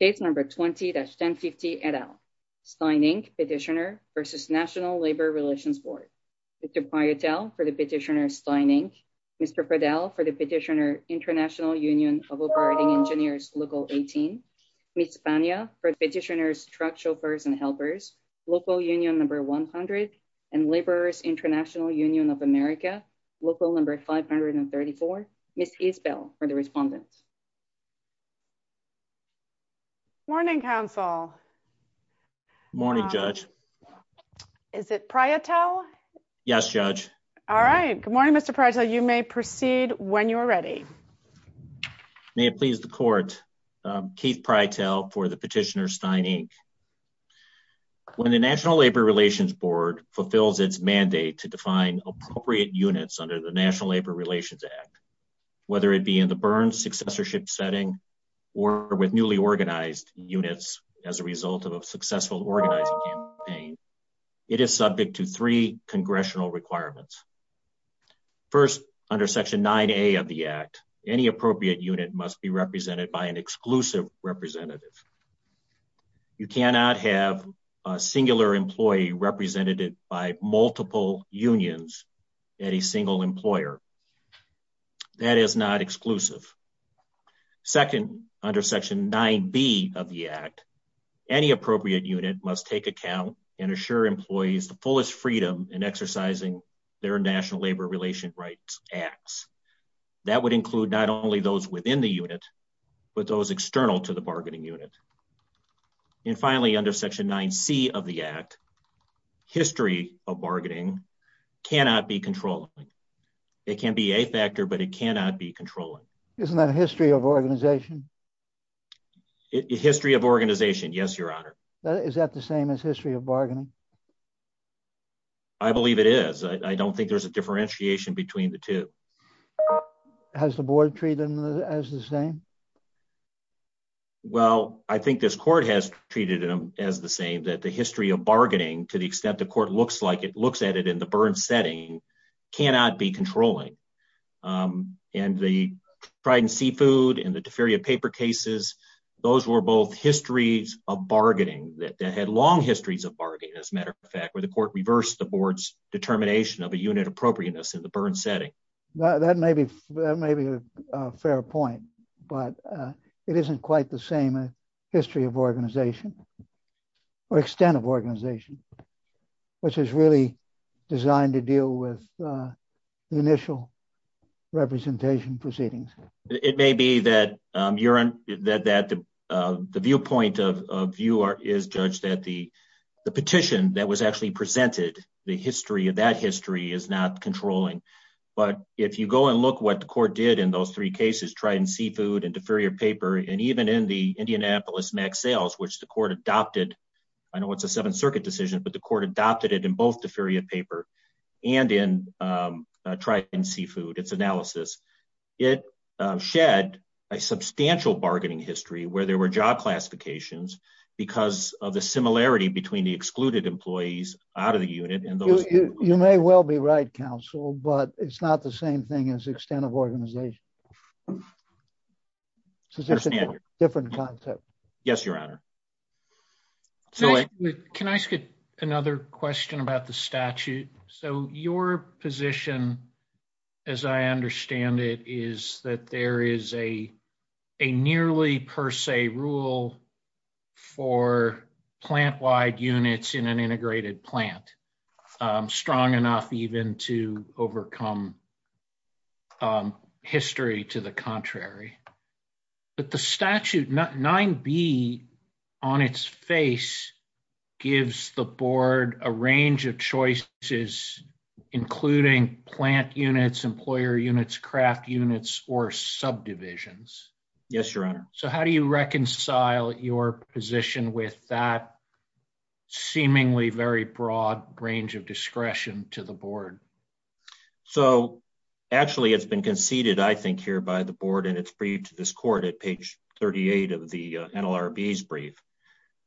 Page number 20-750 et al. Stein, Inc. Petitioner vs. National Labor Relations Board. Mr. Piotel for the Petitioner, Stein, Inc. Mr. Fidel for the Petitioner, International Union of Operating Engineers, Local 18. Ms. Tania for the Petitioner, Truck Chauffeurs and Helpers, Local Union No. 100. And Laborers International Union of America, Local No. 534. Ms. Isbell for the Respondent. Morning, Counsel. Morning, Judge. Is it Piotel? Yes, Judge. All right. Good morning, Mr. Piotel. You may proceed when you are ready. May it please the Court. Keith Piotel for the Petitioner, Stein, Inc. When the National Labor Relations Board fulfills its mandate to define appropriate units under the National Labor Relations Act, whether it be in the burn successorship setting or with newly organized units as a result of a successful organizing campaign, it is subject to three congressional requirements. First, under Section 9A of the Act, any appropriate unit must be represented by an exclusive representative. You cannot have a singular employee represented by multiple unions and a single employer. That is not exclusive. Second, under Section 9B of the Act, any appropriate unit must take account and assure employees the fullest freedom in exercising their National Labor Relations Rights Acts. That would include not only those within the unit, but those external to the bargaining unit. And finally, under Section 9C of the Act, history of bargaining cannot be controlled. It can be a factor, but it cannot be controlled. Isn't that history of organization? History of organization, yes, Your Honor. Is that the same as history of bargaining? I believe it is. I don't think there's a differentiation between the two. Has the board treated them as the same? Well, I think this court has treated them as the same, that the history of bargaining, to the extent the court looks like it looks at it in the burn setting, cannot be controlling. And the fried and seafood and the deferred paper cases, those were both histories of bargaining that had long histories of bargaining, as a matter of fact, where the court reversed the board's determination of a unit appropriateness in the burn setting. That may be a fair point. But it isn't quite the same history of organization or extent of organization, which is really designed to deal with the initial representation proceedings. It may be that the viewpoint of you is, Judge, that the petition that was actually presented, the history of that history is not controlling. But if you go and look what the court did in those three cases, tried and seafood and deferred paper, and even in the Indianapolis max sales, which the court adopted. I know it's a Seventh Circuit decision, but the court adopted it in both deferred paper and in tried and seafood, its analysis. It shed a substantial bargaining history where there were job classifications because of the similarity between the excluded employees out of the unit. You may well be right, counsel, but it's not the same thing as extent of organization. So this is a different concept. Yes, Your Honor. Can I ask another question about the statute? So your position, as I understand it, is that there is a a nearly per se rule for plant wide units in an integrated plant. And that is not strong enough even to overcome history to the contrary. But the statute 9B on its face gives the board a range of choices, including plant units, employer units, craft units or subdivisions. Yes, Your Honor. So how do you reconcile your position with that seemingly very broad range of discretion to the board? So actually, it's been conceded, I think, here by the board, and it's free to this court at page 38 of the NLRB's brief.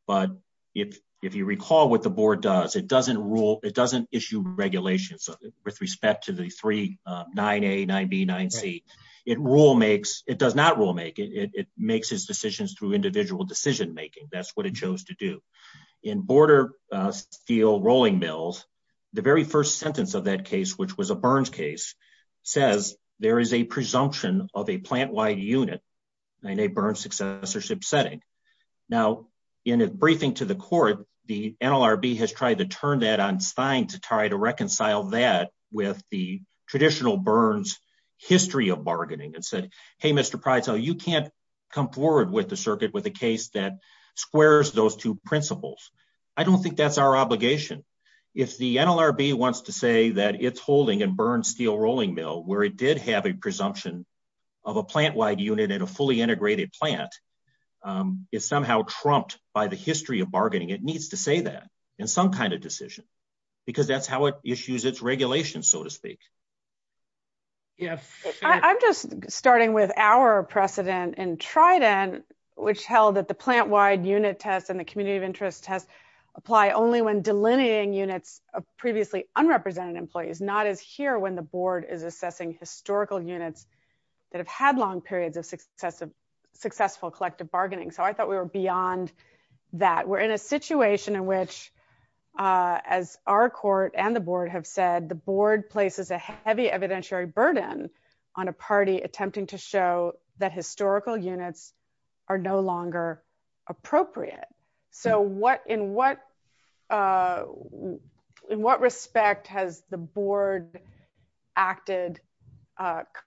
But if you recall what the board does, it doesn't rule. It doesn't issue regulations with respect to the three 9A, 9B, 9C. It rule makes, it does not rule make. It makes its decisions through individual decision making. That's what it chose to do. In border steel rolling mills, the very first sentence of that case, which was a burns case, says there is a presumption of a plant wide unit in a burn successorship setting. Now, in a briefing to the court, the NLRB has tried to turn that on Stein to try to reconcile that with the traditional burns history of bargaining. It said, hey, Mr. Prytel, you can't come forward with the circuit with a case that squares those two principles. I don't think that's our obligation. If the NLRB wants to say that it's holding a burn steel rolling mill where it did have a presumption of a plant wide unit in a fully integrated plant, it's somehow trumped by the history of bargaining. It needs to say that in some kind of decision. Because that's how it issues its regulations, so to speak. Yes. I'm just starting with our precedent in Trident, which held that the plant wide unit test and the community of interest test apply only when delineating units of previously unrepresented employees, and is not as here when the board is assessing historical units that have had long periods of successful collective bargaining. So I thought we were beyond that. We're in a situation in which, as our court and the board have said, the board places a heavy evidentiary burden on a party attempting to show that historical units are no longer appropriate. So in what respect has the board acted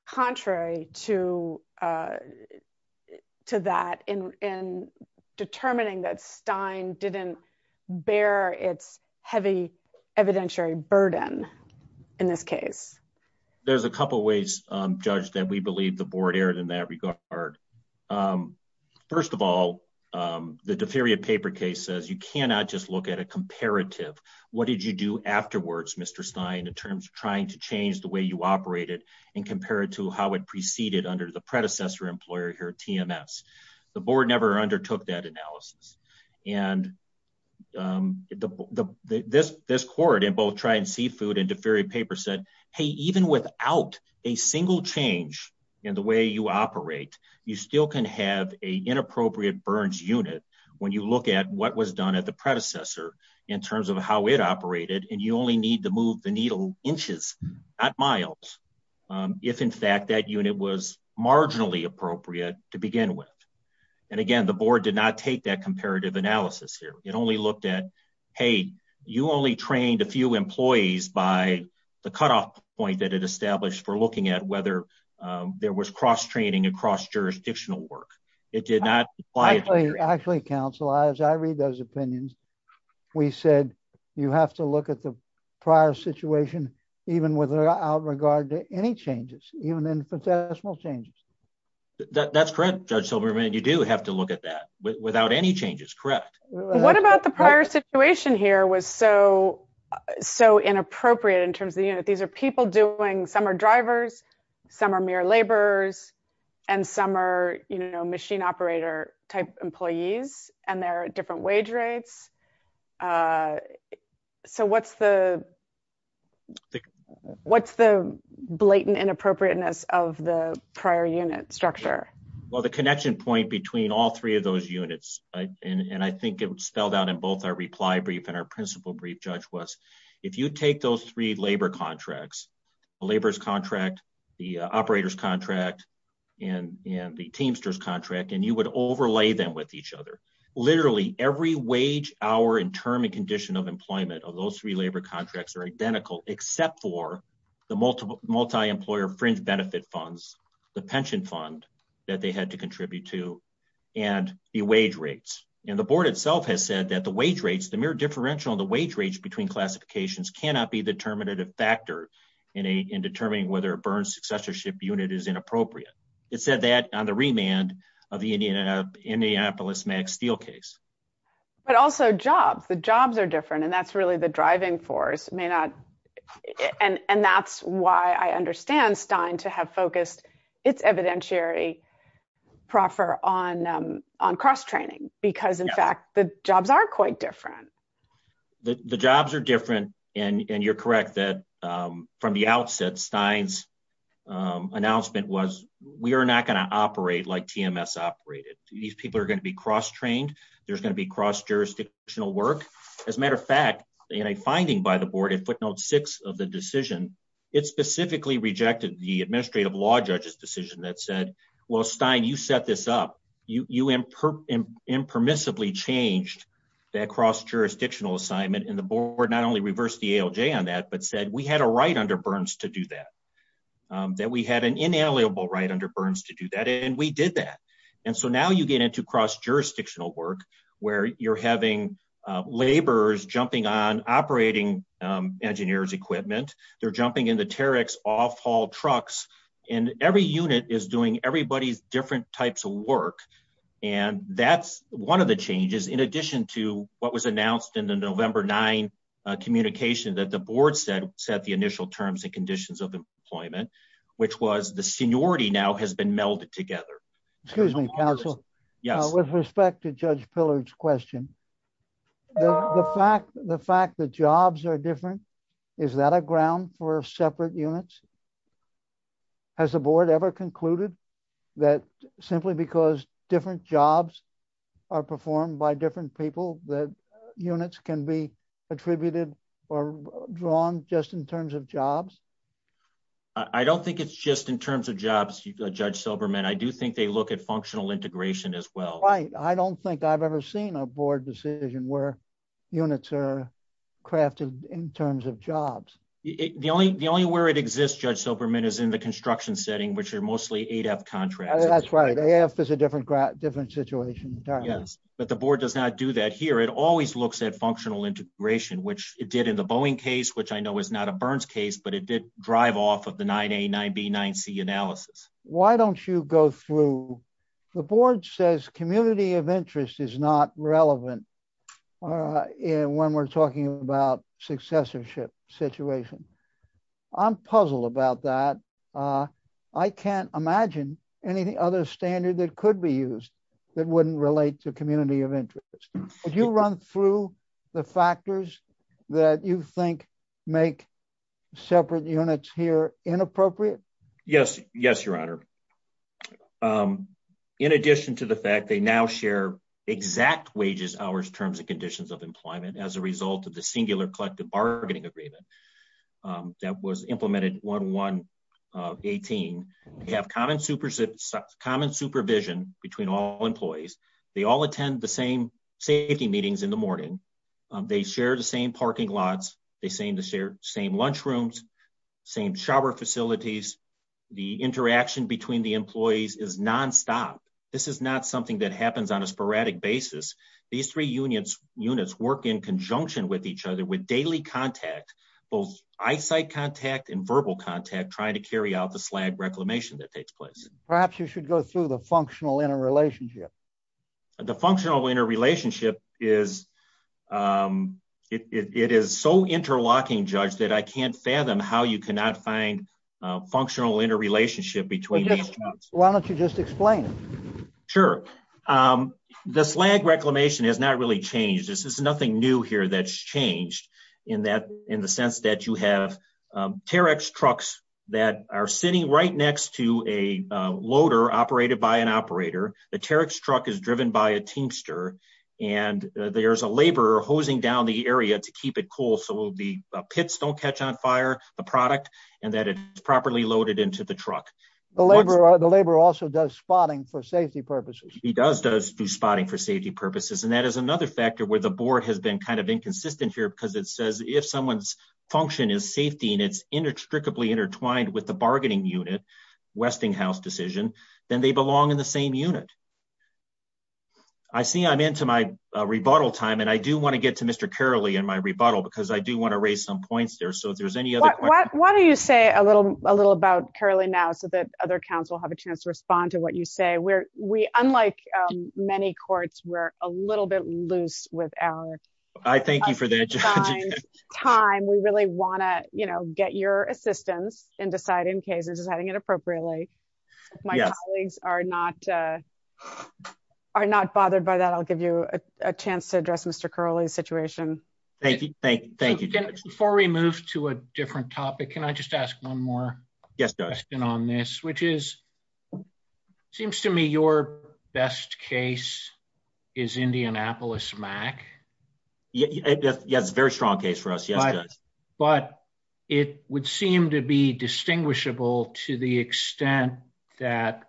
contrary to that in determining that Stein didn't bear its heavy evidentiary burden in this case? There's a couple ways, Judge, that we believe the board erred in that regard. First of all, the deferred paper case says you cannot just look at a comparative. What did you do afterwards, Mr. Stein, in terms of trying to change the way you operated and compare it to how it preceded under the predecessor employer here, TMS? The board never undertook that analysis. And this court in both Trident Seafood and deferred paper said, hey, even without a single change in the way you operate, you still can have an inappropriate burned unit when you look at what was done at the predecessor in terms of how it operated, and you only need to move the needle inches, not miles, if in fact that unit was marginally appropriate to begin with. And again, the board did not take that comparative analysis here. It only looked at, hey, you only trained a few employees by the cutoff point that it established for looking at whether there was cross-training and cross-jurisdictional work. Actually, counsel, as I read those opinions, we said you have to look at the prior situation even without regard to any changes, even infinitesimal changes. That's correct, Judge Silverman. You do have to look at that without any changes. Correct. What about the prior situation here was so inappropriate in terms of these are people doing, some are drivers, some are mere laborers, and some are machine operator type employees, and there are different wage rates. So what's the blatant inappropriateness of the prior unit structure? Well, the connection point between all three of those units, and I think it was spelled out in both our reply brief and our principle brief, Judge, was if you take those three labor contracts, the laborers contract, the operators contract, and the Teamsters contract, and you would overlay them with each other. Literally, every wage, hour, and term and condition of employment of those three labor contracts are identical except for the multi-employer fringe benefit funds, the pension fund that they had to contribute to, and the wage rates. And the board itself has said that the wage rates, the mere differential in the wage rates between classifications cannot be the determinative factor in determining whether a burn successorship unit is inappropriate. It said that on the remand of the Indianapolis Max Steel case. But also jobs. The jobs are different, and that's really the driving force. And that's why I understand Stein to have focused its evidentiary proffer on cross-training because, in fact, the jobs are quite different. The jobs are different, and you're correct that from the outset, Stein's announcement was we are not going to operate like TMS operated. These people are going to be cross-trained. There's going to be cross-jurisdictional work. As a matter of fact, in a finding by the board in footnote six of the decision, it specifically rejected the administrative law judge's decision that said, well, Stein, you set this up. You impermissibly changed that cross-jurisdictional assignment, and the board not only reversed the ALJ on that, but said we had a right under Burns to do that. That we had an inalienable right under Burns to do that, and we did that. And so now you get into cross-jurisdictional work where you're having laborers jumping on operating engineers' equipment. They're jumping into Tarek's off-haul trucks, and every unit is doing everybody's different types of work. And that's one of the changes in addition to what was announced in the November 9 communication that the board set the initial terms and conditions of employment, which was the seniority now has been melded together. Excuse me, counsel. With respect to Judge Pillard's question, the fact that jobs are different, is that a ground for separate units? Has the board ever concluded that simply because different jobs are performed by different people that units can be attributed or drawn just in terms of jobs? I don't think it's just in terms of jobs, Judge Silberman. I do think they look at functional integration as well. Right. I don't think I've ever seen a board decision where units are crafted in terms of jobs. The only where it exists, Judge Silberman, is in the construction setting, which are mostly ADAP contracts. That's right. ADAP is a different situation entirely. Yes, but the board does not do that here. It always looks at functional integration, which it did in the Boeing case, which I know is not a Burns case, but it did drive off of the 9A, 9B, 9C analysis. The board says community of interest is not relevant when we're talking about successorship situations. I'm puzzled about that. I can't imagine any other standard that could be used that wouldn't relate to community of interest. Did you run through the factors that you think make separate units here inappropriate? Yes, Your Honor. In addition to the fact they now share exact wages, hours, terms, and conditions of employment as a result of the singular collective bargaining agreement that was implemented 1118, they have common supervision between all employees. They all attend the same safety meetings in the morning. They share the same parking lots. They share the same lunch rooms, same shower facilities. The interaction between the employees is nonstop. This is not something that happens on a sporadic basis. These three units work in conjunction with each other with daily contact, both eyesight contact and verbal contact, trying to carry out the SLAG reclamation that takes place. Perhaps you should go through the functional interrelationship. The functional interrelationship is so interlocking, Judge, that I can't fathom how you cannot find a functional interrelationship between these units. Why don't you just explain it? Sure. The SLAG reclamation has not really changed. There's nothing new here that's changed in the sense that you have terex trucks that are sitting right next to a loader operated by an operator. The terex truck is driven by a tinkster, and there's a laborer hosing down the area to keep it cool so the pits don't catch on fire, the product, and that it's properly loaded into the truck. The laborer also does spotting for safety purposes. He does do spotting for safety purposes, and that is another factor where the board has been kind of inconsistent here because it says if someone's function is safety and it's inextricably intertwined with the bargaining unit, Westinghouse decision, then they belong in the same unit. I see I'm into my rebuttal time, and I do want to get to Mr. Curley in my rebuttal because I do want to raise some points there. Why don't you say a little about Curley now so that other council have a chance to respond to what you say. Unlike many courts, we're a little bit loose with our time. We really want to get your assistance in deciding cases and deciding it appropriately. If my colleagues are not bothered by that, I'll give you a chance to address Mr. Curley's situation. Thank you. Before we move to a different topic, can I just ask one more question on this, which seems to me your best case is Indianapolis-MAC. Yes, it's a very strong case for us. It would seem to be distinguishable to the extent that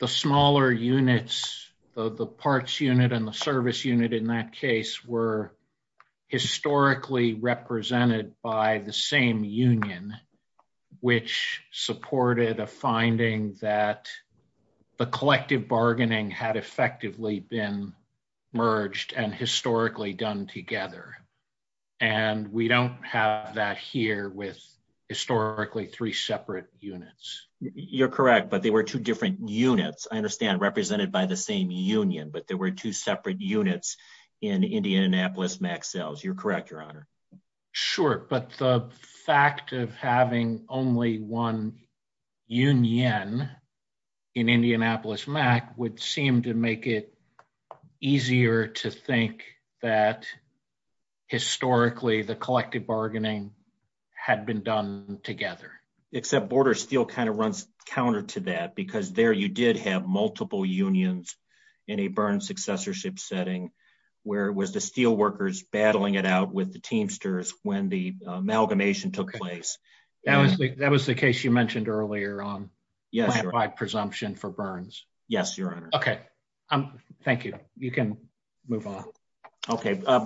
the smaller units of the parts unit and the service unit in that case were historically represented by the same union, which supported a finding that the collective bargaining had effectively been merged and historically done together. We don't have that here with historically three separate units. You're correct, but they were two different units. I understand represented by the same union, but there were two separate units in Indianapolis-MAC cells. You're correct, Your Honor. Sure, but the fact of having only one union in Indianapolis-MAC would seem to make it easier to think that historically the collective bargaining had been done together. Except Border Steel kind of runs counter to that, because there you did have multiple unions in a burn successorship setting, where it was the steel workers battling it out with the Teamsters when the amalgamation took place. That was the case you mentioned earlier on planned by presumption for burns. Yes, Your Honor. Okay, thank you. You can move on.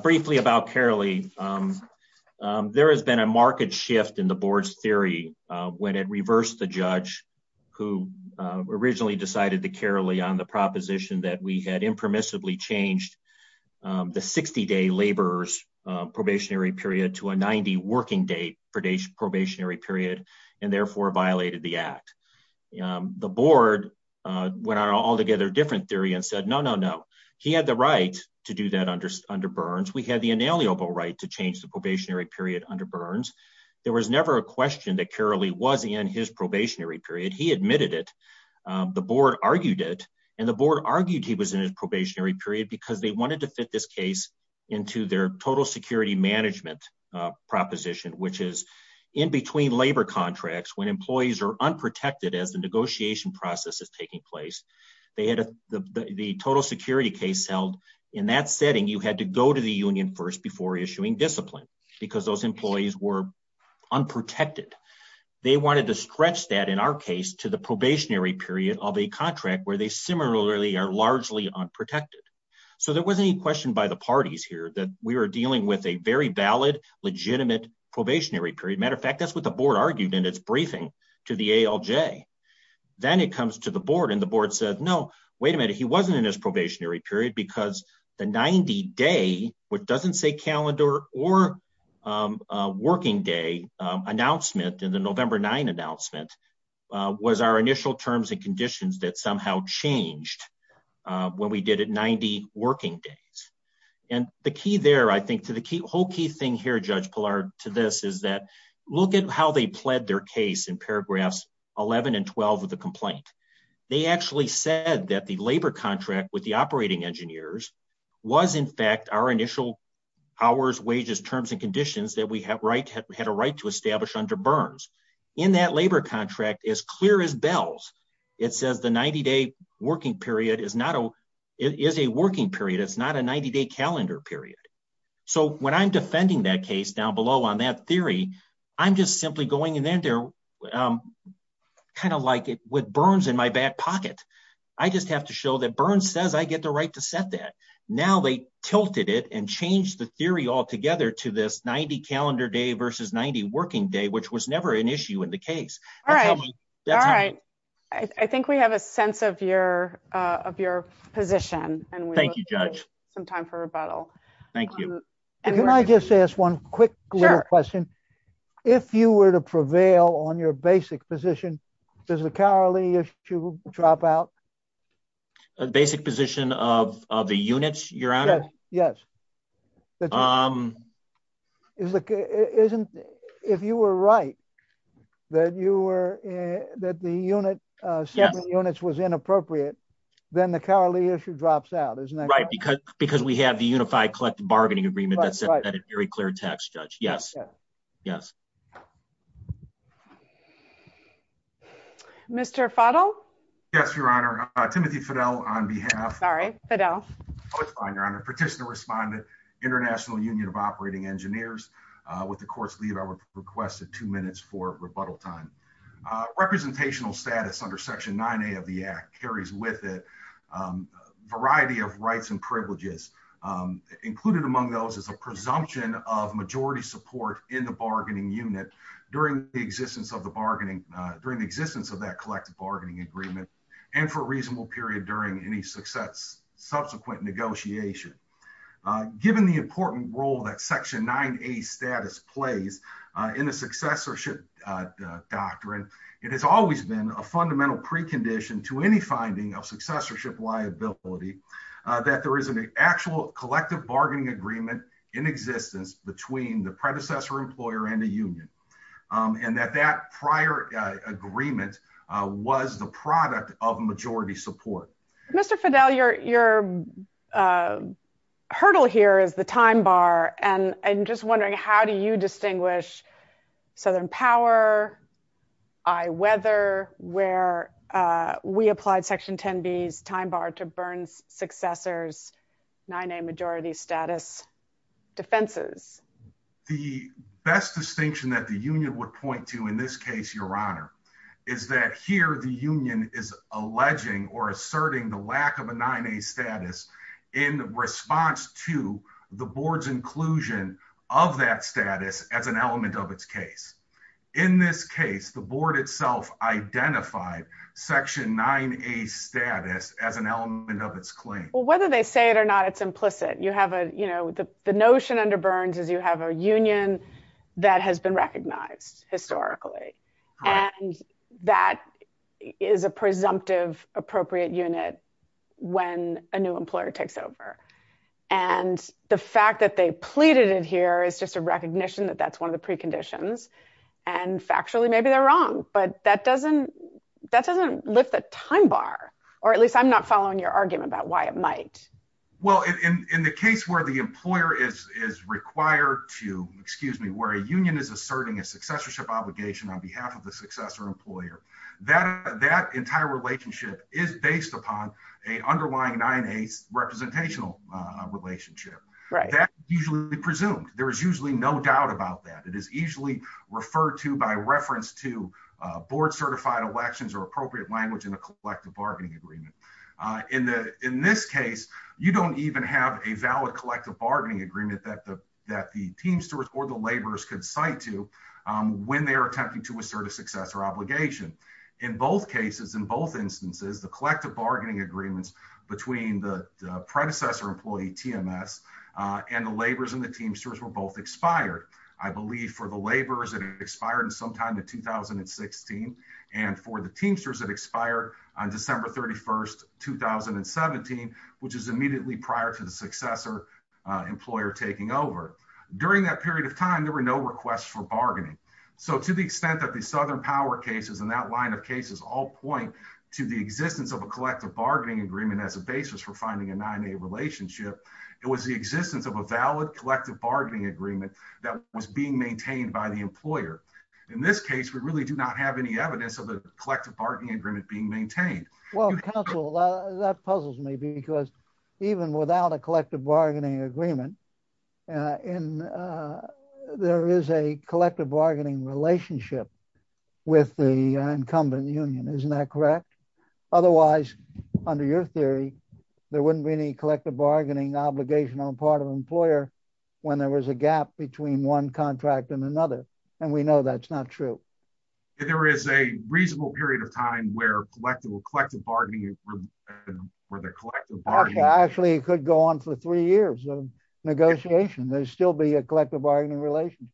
Briefly about Carely, there has been a marked shift in the board's theory when it reversed the judge who originally decided to Carely on the proposition that we had impermissibly changed the 60-day laborers probationary period to a 90 working day probationary period and therefore violated the act. The board went all together a different theory and said, no, no, no. He had the right to do that under burns. We have the inalienable right to change the probationary period under burns. There was never a question that Carely was in his probationary period. He admitted it. The board argued it and the board argued he was in a probationary period because they wanted to fit this case into their total security management proposition, which is in between labor contracts when employees are unprotected as the negotiation process is taking place. The total security case held in that setting, you had to go to the union first before issuing discipline because those employees were unprotected. They wanted to stretch that in our case to the probationary period of a contract where they similarly are largely unprotected. So there wasn't any question by the parties here that we were dealing with a very valid, legitimate probationary period. Matter of fact, that's what the board argued in its briefing to the ALJ. Then it comes to the board and the board said, no, wait a minute. He wasn't in his probationary period because the 90 day, which doesn't say calendar or working day announcement in the November 9 announcement, was our initial terms and conditions that somehow changed when we did it 90 working days. The key there, I think, to the whole key thing here, Judge Pillar, to this is that look at how they pled their case in paragraphs 11 and 12 of the complaint. They actually said that the labor contract with the operating engineers was in fact our initial hours, wages, terms, and conditions that we had a right to establish under Burns. In that labor contract, as clear as bells, it says the 90 day working period is a working period. It's not a 90 day calendar period. So when I'm defending that case down below on that theory, I'm just simply going in there kind of like with Burns in my back pocket. I just have to show that Burns says I get the right to set that. Now they tilted it and changed the theory altogether to this 90 calendar day versus 90 working day, which was never an issue in the case. All right. I think we have a sense of your position. Thank you, Judge. Some time for rebuttal. Thank you. Can I just ask one quick question? If you were to prevail on your basic position, does the Carly issue drop out? The basic position of the units, Your Honor? Yes. If you were right, that the separate units was inappropriate, then the Carly issue drops out, isn't that right? Because we have the unified collective bargaining agreement. That's a very clear text, Judge. Yes. Yes. Mr. Fottle. Yes, Your Honor. Timothy Fidel on behalf. All right. Fidel. Your Honor. Participant responded. International Union of Operating Engineers. With the court's leave, I would request a two minutes for rebuttal time. Mr. Fottle, you néné BW says she would be gluelinous with the names of various actors involved. Thank you. You follow? Ms. Yes, Your Honor. I accept the briefness and allegiance to highlight the asking directly. It has always been a fundamental precondition to any finding of successorship liability that there is an actual collective bargaining agreement in existence between the predecessor employer and the union. And that that prior agreement was the product of majority support. Mr. Fidel, your hurdle here is the time bar. And I'm just wondering, how do you distinguish southern power? I weather where we applied Section 10 B time bar to burn successors, nine a majority status defenses. The best distinction that the union would point to in this case, Your Honor, is that here the union is alleging or asserting the lack of a nine a status in response to the board's inclusion of that status as an element of its case. In this case, the board itself identified Section nine a status as an element of its claim. Well, whether they say it or not, it's implicit. You have a, you know, the notion under Burns is you have a union that has been recognized historically. And that is a presumptive appropriate unit when a new employer takes over. And the fact that they pleaded in here is just a recognition that that's one of the preconditions. And factually, maybe they're wrong. But that doesn't that doesn't lift the time bar. Or at least I'm not following your argument about why it might. Well, in the case where the employer is required to excuse me, where a union is asserting a successorship obligation on behalf of the successor employer, that that entire relationship is based upon a underlying nine a representational relationship. Right. That's usually presumed. There's usually no doubt about that. It is usually referred to by reference to board certified elections or appropriate language in a collective bargaining agreement. In this case, you don't even have a valid collective bargaining agreement that the that the teamsters or the laborers could cite to when they're attempting to assert a successor obligation. In both cases, in both instances, the collective bargaining agreements between the predecessor employee TMS and the laborers and the teamsters were both expired. I believe for the laborers, it expired sometime in 2016. And for the teamsters, it expired on December 31st, 2017, which is immediately prior to the successor employer taking over. During that period of time, there were no requests for bargaining. So to the extent that the Southern Power cases and that line of cases all point to the existence of a collective bargaining agreement as a basis for finding a nine a relationship, it was the existence of a valid collective bargaining agreement that was being maintained by the employer. In this case, we really do not have any evidence of the collective bargaining agreement being maintained. Well, counsel, that puzzles me because even without a collective bargaining agreement and there is a collective bargaining relationship with the incumbent union. Isn't that correct? Otherwise, under your theory, there wouldn't be any collective bargaining obligation on part of an employer when there was a gap between one contract and another. And we know that's not true. There is a reasonable period of time where collective collective bargaining where the Actually, it could go on for three years of negotiation. There's still be a collective bargaining relation.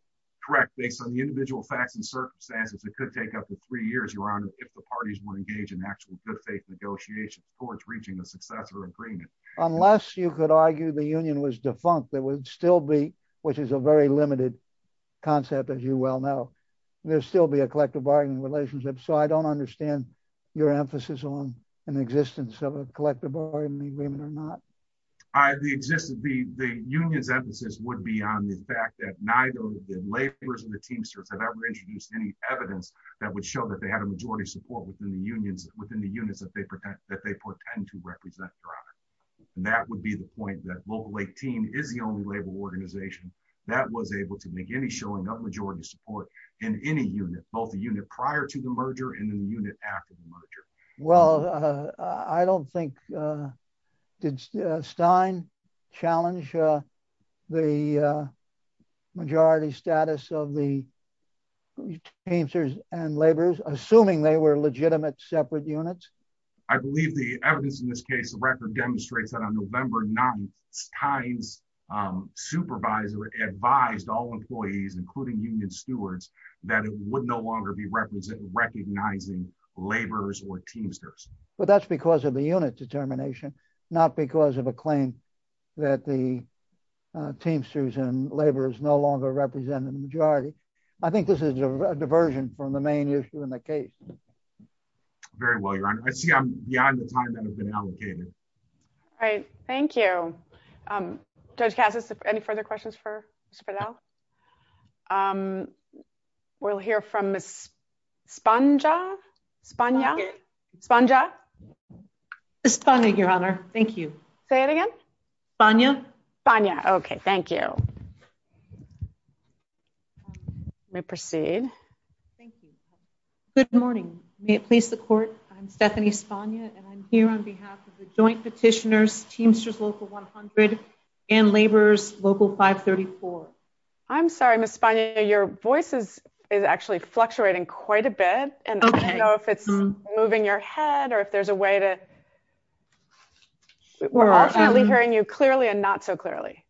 Correct. Based on the individual facts and circumstances, it could take up to three years, Your Honor, if the parties were engaged in actually good faith negotiations towards reaching a successor agreement. Unless you could argue the union was defunct, there would still be, which is a very limited concept, as you well know. There's still be a collective bargaining relationship. So I don't understand your emphasis on an existence of a collective bargaining agreement or not. The union's emphasis would be on the fact that neither the laborers and the teamsters have ever introduced any evidence that would show that they had a majority support within the unions, within the units that they pretend to represent, Your Honor. And that would be the point that Local 18 is the only labor organization that was able to make any showing of majority support in any unit, both the unit prior to the merger and the unit after the merger. Well, I don't think, did Stein challenge the majority status of the teamsters and laborers, assuming they were legitimate separate units? I believe the evidence in this case, the record demonstrates that on November 9th, Stein's employees, including union stewards, that it would no longer be recognizing laborers or teamsters. But that's because of the unit determination, not because of a claim that the teamsters and laborers no longer represent the majority. I think this is a diversion from the main issue in the case. Very well, Your Honor. I see I'm beyond the time that has been allocated. All right. Thank you. Judge Cassis, any further questions for Ms. Fidel? We'll hear from Ms. Spanja? Spanja? Spanja? Ms. Spanja, Your Honor. Thank you. Say it again? Spanja. Spanja. Okay, thank you. I may proceed. Thank you. Good morning. May it please the Court, I'm Stephanie Spanja, and I'm here on behalf of the Joint Petitioners Teamsters Local 100 and Laborers Local 534. I'm sorry, Ms. Spanja. Your voice is actually fluctuating quite a bit. Okay. I don't know if it's moving your head or if there's a way to hear you clearly or not so clearly.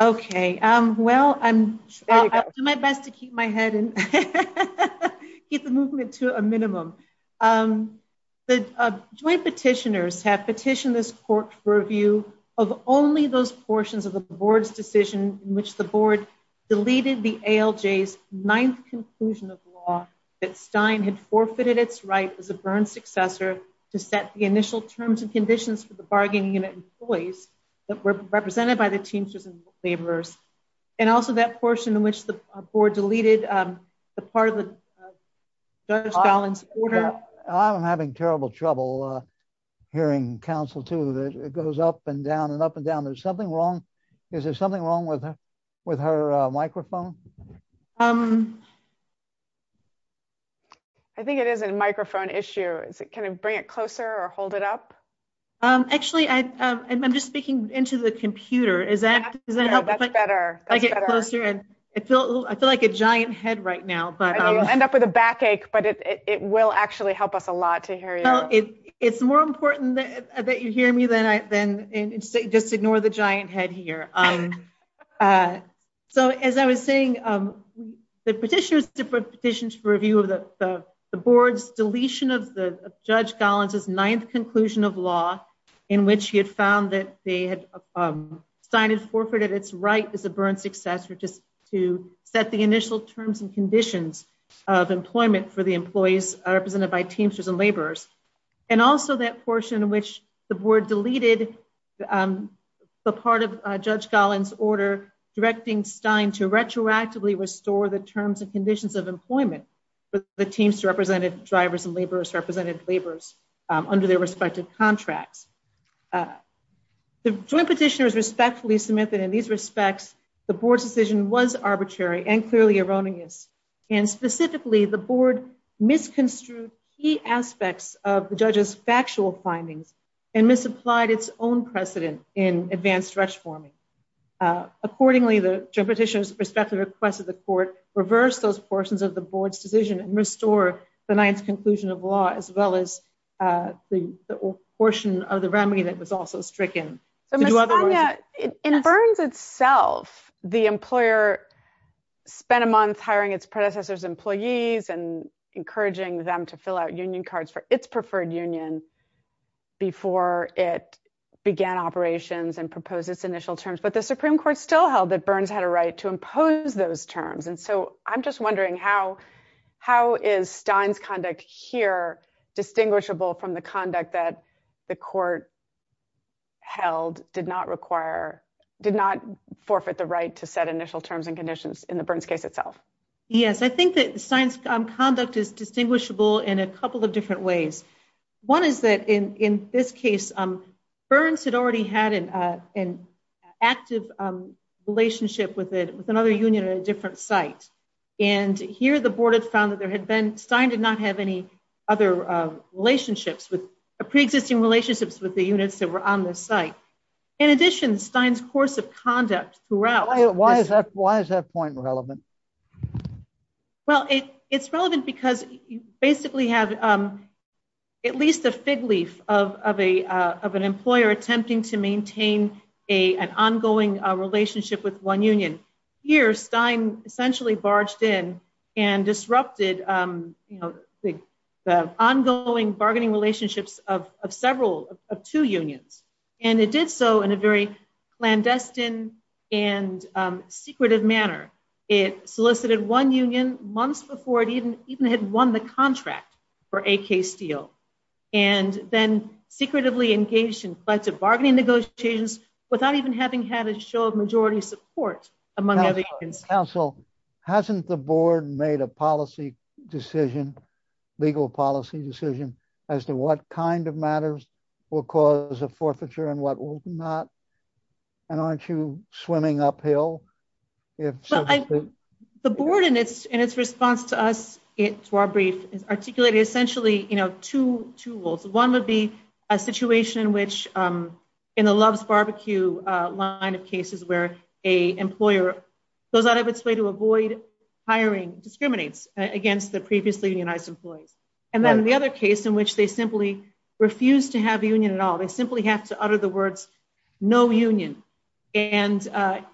Okay. Well, I'll do my best to keep my head and keep the movement to a minimum. The Joint Petitioners have petitioned this Court for review of only those portions of the Board's decision in which the Board deleted the ALJ's ninth conclusion of law that Stein had forfeited its right as a Byrne successor to set the initial terms and conditions for the bargaining unit employees that were represented by the Teamsters and Laborers, and also that I'm having terrible trouble hearing counsel too. It goes up and down and up and down. Is there something wrong? Is there something wrong with her microphone? I think it is a microphone issue. Can you bring it closer or hold it up? Actually, I'm just speaking into the computer. Is that better? That's better. I feel like a giant head right now. I know you'll end up with a backache, but it will actually help us a lot to hear you. It's more important that you hear me than just ignore the giant head here. So, as I was saying, the Petitioners have petitioned for review of the Board's deletion of Judge Collins' ninth conclusion of law in which he had found that Stein had forfeited its right as a Byrne successor to set the initial terms and conditions of employment for the employees represented by Teamsters and Laborers, and also that portion in which the Board deleted the part of Judge Collins' order directing Stein to retroactively restore the terms and conditions of employment for the Teamster-represented drivers and Laborers-represented laborers under their respective contracts. The Joint Petitioners respectfully submit that in these respects, the Board's decision was arbitrary and clearly erroneous, and specifically, the Board misconstrued key aspects of the Judge's factual findings and misapplied its own precedent in advanced stretch forming. Accordingly, the Joint Petitioners respect the request of the Court, reverse those portions of the Board's decision, and restore the ninth conclusion of law as well as the portion of the remedy that was also stricken. In Byrnes itself, the employer spent a month hiring its predecessor's employees and encouraging them to fill out union cards for its preferred union before it began operations and proposed its initial terms, but the Supreme Court still held that Byrnes had a right to impose those terms, and so I'm just wondering how is Stein's conduct here distinguishable from the conduct that the Court held did not require, did not forfeit the right to set initial terms and conditions in the Byrnes case itself? Yes, I think that Stein's conduct is distinguishable in a couple of different ways. One is that in this case, Byrnes had already had an active relationship with another union at a different site, and here the Board has found that Stein did not have any other relationships with, pre-existing relationships with the units that were on this site. In addition, Stein's course of conduct throughout... Why is that point relevant? Well, it's relevant because you basically have at least a fig leaf of an employer attempting to maintain an ongoing relationship with one union. Here, Stein essentially barged in and disrupted the ongoing bargaining relationships of two unions, and it did so in a very clandestine and secretive manner. It solicited one union months before it even had won the contract for AK Steel, and then secretively engaged in collective bargaining negotiations without even having had a show of majority support among other unions. Hasn't the Board made a policy decision, legal policy decision, as to what kind of matters will cause a forfeiture and what will not? And aren't you swimming uphill? The Board, in its response to us at Swarbrick, articulated essentially two rules. One would be a situation which, in the Love's Barbecue line of cases, where an employer goes out of its way to avoid hiring discriminates against the previously united employees. And then the other case in which they simply refuse to have a union at all. They simply have to utter the words, no union. And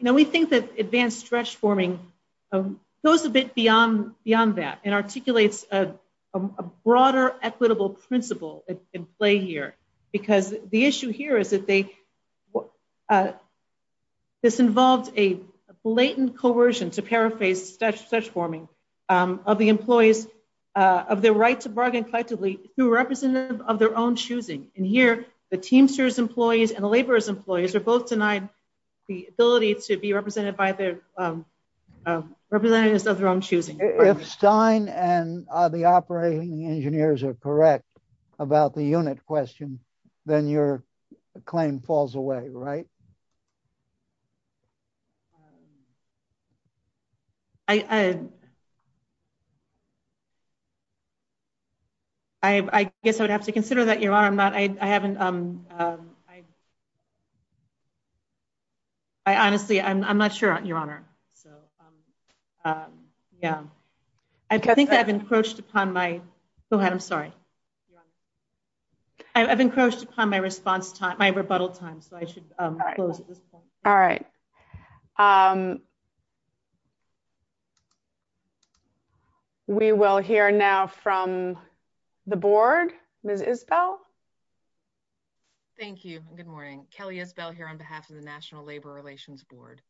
we think that advanced stretch forming goes a bit beyond that and articulates a broader equitable principle at play here. Because the issue here is that this involves a blatant coercion, to paraphrase stretch forming, of the employees of their right to bargain effectively through representatives of their own choosing. And here, the teamsters' employees and the laborers' employees are both denied the ability to be represented by their representatives of their own choosing. If Stein and the operating engineers are correct about the unit question, then your claim falls away, right? I guess I would have to consider that, Your Honor. Honestly, I'm not sure, Your Honor. I think I've encroached upon my, Your Honor, I'm sorry. I've encroached upon my response time, my rebuttal time, so I should close. All right. We will hear now from the board. Ms. Isbell? Thank you. Good morning. Kelly Isbell here on behalf of the National Labor Relations Board.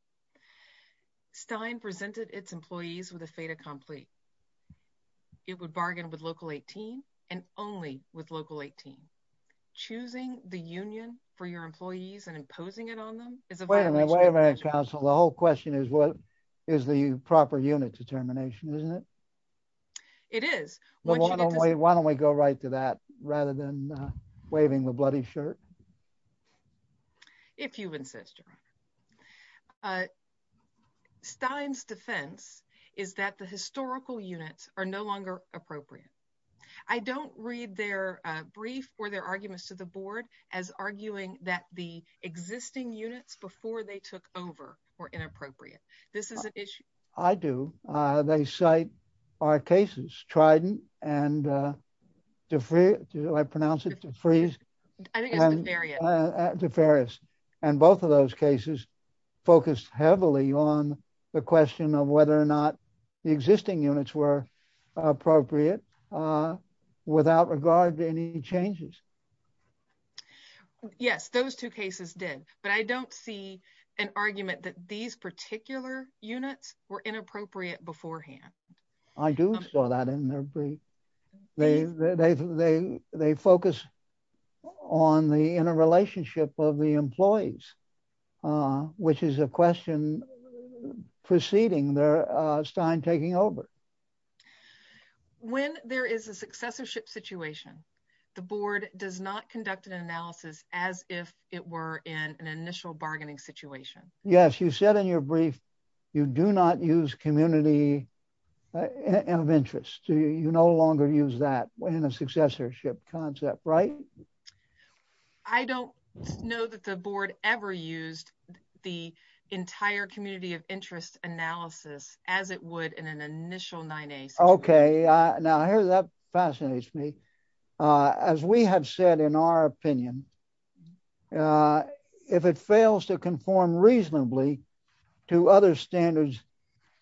Stein presented its employees with a fait accompli. It would bargain with Local 18 and only with Local 18. Choosing the union for your employees and imposing it on them is a violation of national law. Wait a minute, counsel. The whole question is what is the proper unit determination, isn't it? It is. Why don't we go right to that rather than waving the bloody shirt? If you insist, Your Honor. What Stein's defense is that the historical units are no longer appropriate. I don't read their brief or their arguments to the board as arguing that the existing units before they took over were inappropriate. This is an issue. I do. They cite our cases. Trident and Deferius. And both of those cases focused heavily on the question of whether or not the existing units were appropriate without regard to any changes. Yes, those two cases did. But I don't see an argument that these particular units were inappropriate beforehand. I do saw that in their brief. They focus on the interrelationship of the employees, which is a question preceding their Stein taking over. When there is a successorship situation, the board does not conduct an analysis as if it were in an initial bargaining situation. Yes, you said in your brief you do not use community of interest. You no longer use that in a successorship concept, right? I don't know that the board ever used the entire community of interest analysis as it would in an initial 98. Okay. Now, that fascinates me. As we have said, in our opinion, if it fails to conform reasonably to other standards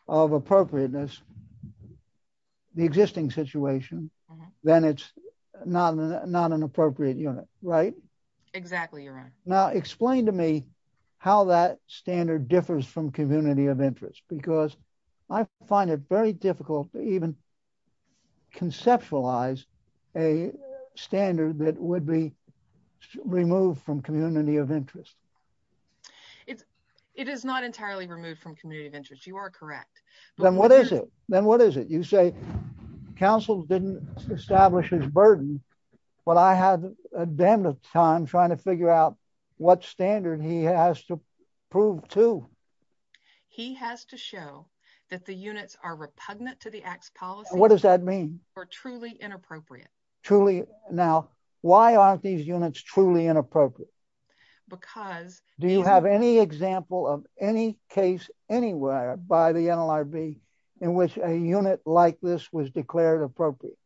of appropriateness, the existing situation, then it's not an appropriate unit. Right? Exactly. Now, explain to me how that standard differs from community of interest, because I find it very difficult to even conceptualize a standard that would be removed from community of interest. It is not entirely removed from community of interest. You are correct. Then what is it? You say counsel didn't establish his burden, but I had a damn good time trying to figure out what standard he has to prove to. He has to show that the units are repugnant to the Act's policy. What does that mean? Or truly inappropriate. Now, why aren't these units truly inappropriate? Do you have any example of any case anywhere by the NLRB in which a unit like this was declared appropriate?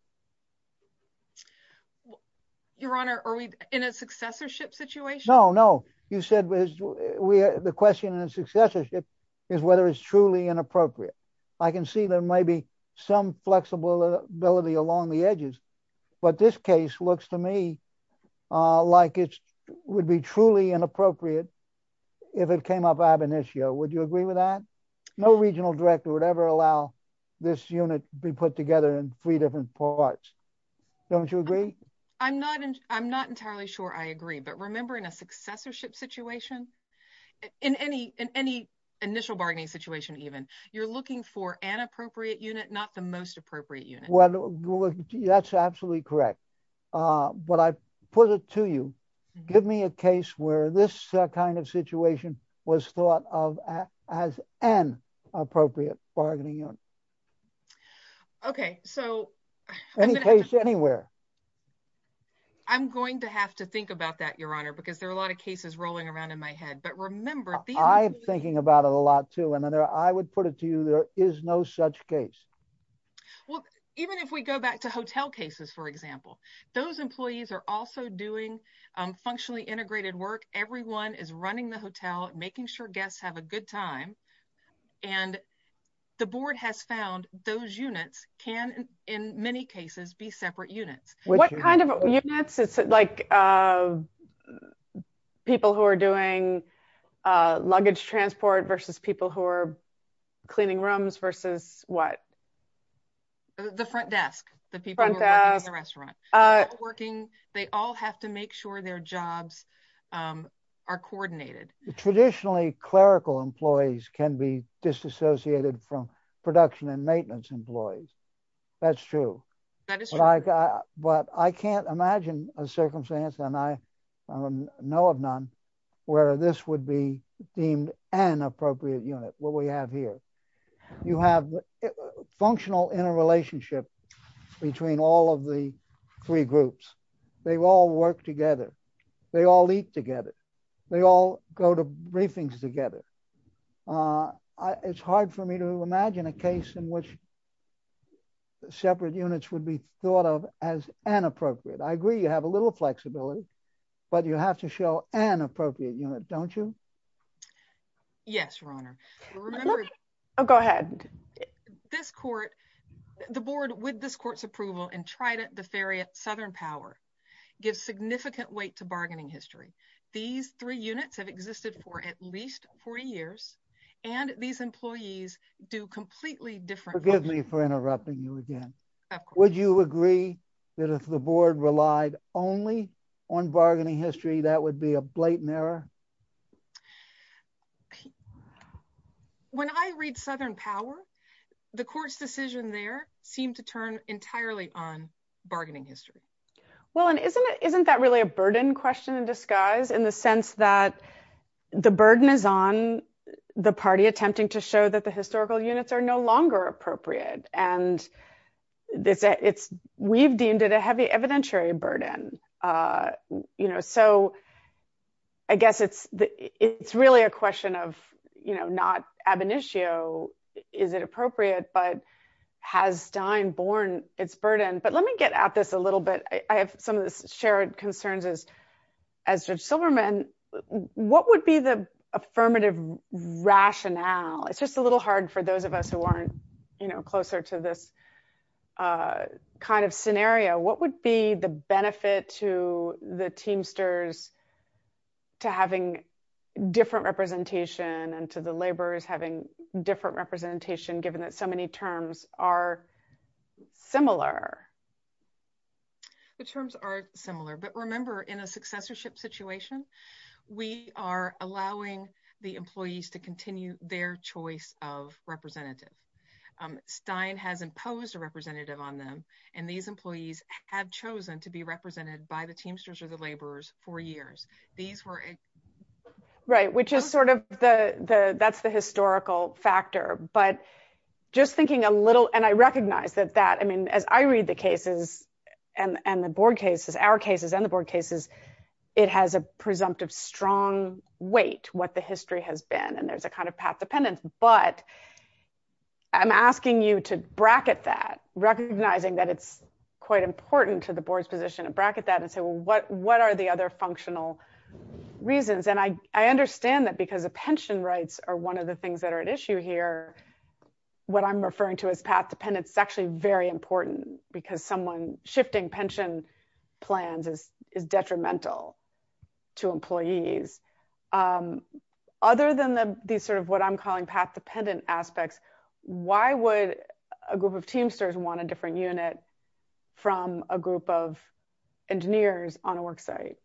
Your Honor, are we in a successorship situation? No, no. You said the question in successorship is whether it's truly inappropriate. I can see there may be some flexibility along the edges, but this case looks to me like it would be truly inappropriate if it came up ab initio. Would you agree with that? No regional director would ever allow this unit to be put together in three different parts. Don't you agree? I'm not entirely sure I agree, but remember in a successorship situation, in any initial bargaining situation even, you're looking for an appropriate unit, not the most appropriate unit. Well, that's absolutely correct. But I put it to you. Give me a case where this kind of situation was thought of as an appropriate bargaining unit. Any case anywhere. I'm going to have to think about that, Your Honor, because there are a lot of cases rolling around in my head. I'm thinking about it a lot, too. And I would put it to you, there is no such case. Well, even if we go back to hotel cases, for example, those employees are also doing functionally integrated work. Everyone is running the hotel, making sure guests have a good time. And the board has found those units can, in many cases, be separate units. What kind of units? Is it like people who are doing luggage transport versus people who are cleaning rooms versus what? The front desk, the people who are running the restaurant. They all have to make sure their jobs are coordinated. Traditionally, clerical employees can be disassociated from production and maintenance employees. That's true. But I can't imagine a circumstance, and I know of none, where this would be deemed an appropriate unit, what we have here. You have functional interrelationship between all of the three groups. They all work together. They all eat together. They all go to briefings together. It's hard for me to imagine a case in which separate units would be thought of as inappropriate. I agree you have a little flexibility, but you have to show an appropriate unit, don't you? Yes, Your Honor. Go ahead. This court, the board with this court's approval, and Trident, the Theriot, Southern Power, gives significant weight to bargaining history. These three units have existed for at least 40 years, and these employees do completely different work. Forgive me for interrupting you again. Would you agree that if the board relied only on bargaining history, that would be a blatant error? When I read Southern Power, the court's decision there seemed to turn entirely on bargaining history. Well, and isn't that really a burden question in disguise, in the sense that the burden is on the party attempting to show that the historical units are no longer appropriate? And we've deemed it a heavy evidentiary burden. I guess it's really a question of not ab initio, is it appropriate, but has Stein borne its burden? But let me get at this a little bit. I have some of the shared concerns as Judge Silverman. What would be the affirmative rationale? It's just a little hard for those of us who aren't closer to this kind of scenario. What would be the benefit to the Teamsters to having different representation and to the laborers having different representation, given that so many terms are similar? The terms are similar. But remember, in a successorship situation, we are allowing the employees to continue their choice of representative. Stein has imposed a representative on them, and these employees have chosen to be represented by the Teamsters or the laborers for years. Right, which is sort of the, that's the historical factor. But just thinking a little, and I recognize that that, I mean, as I read the cases and the board cases, our cases and the board cases, it has a presumptive strong weight, what the history has been. And there's a kind of past dependence, but I'm asking you to bracket that, recognizing that it's quite important to the board's position to bracket that and say, well, what are the other functional reasons? And I understand that because the pension rights are one of the things that are at issue here. What I'm referring to as past dependence is actually very important, because someone shifting pension plans is detrimental to employees. Other than these sort of what I'm calling past dependent aspects, why would a group of Teamsters want a different unit from a group of engineers on a work site?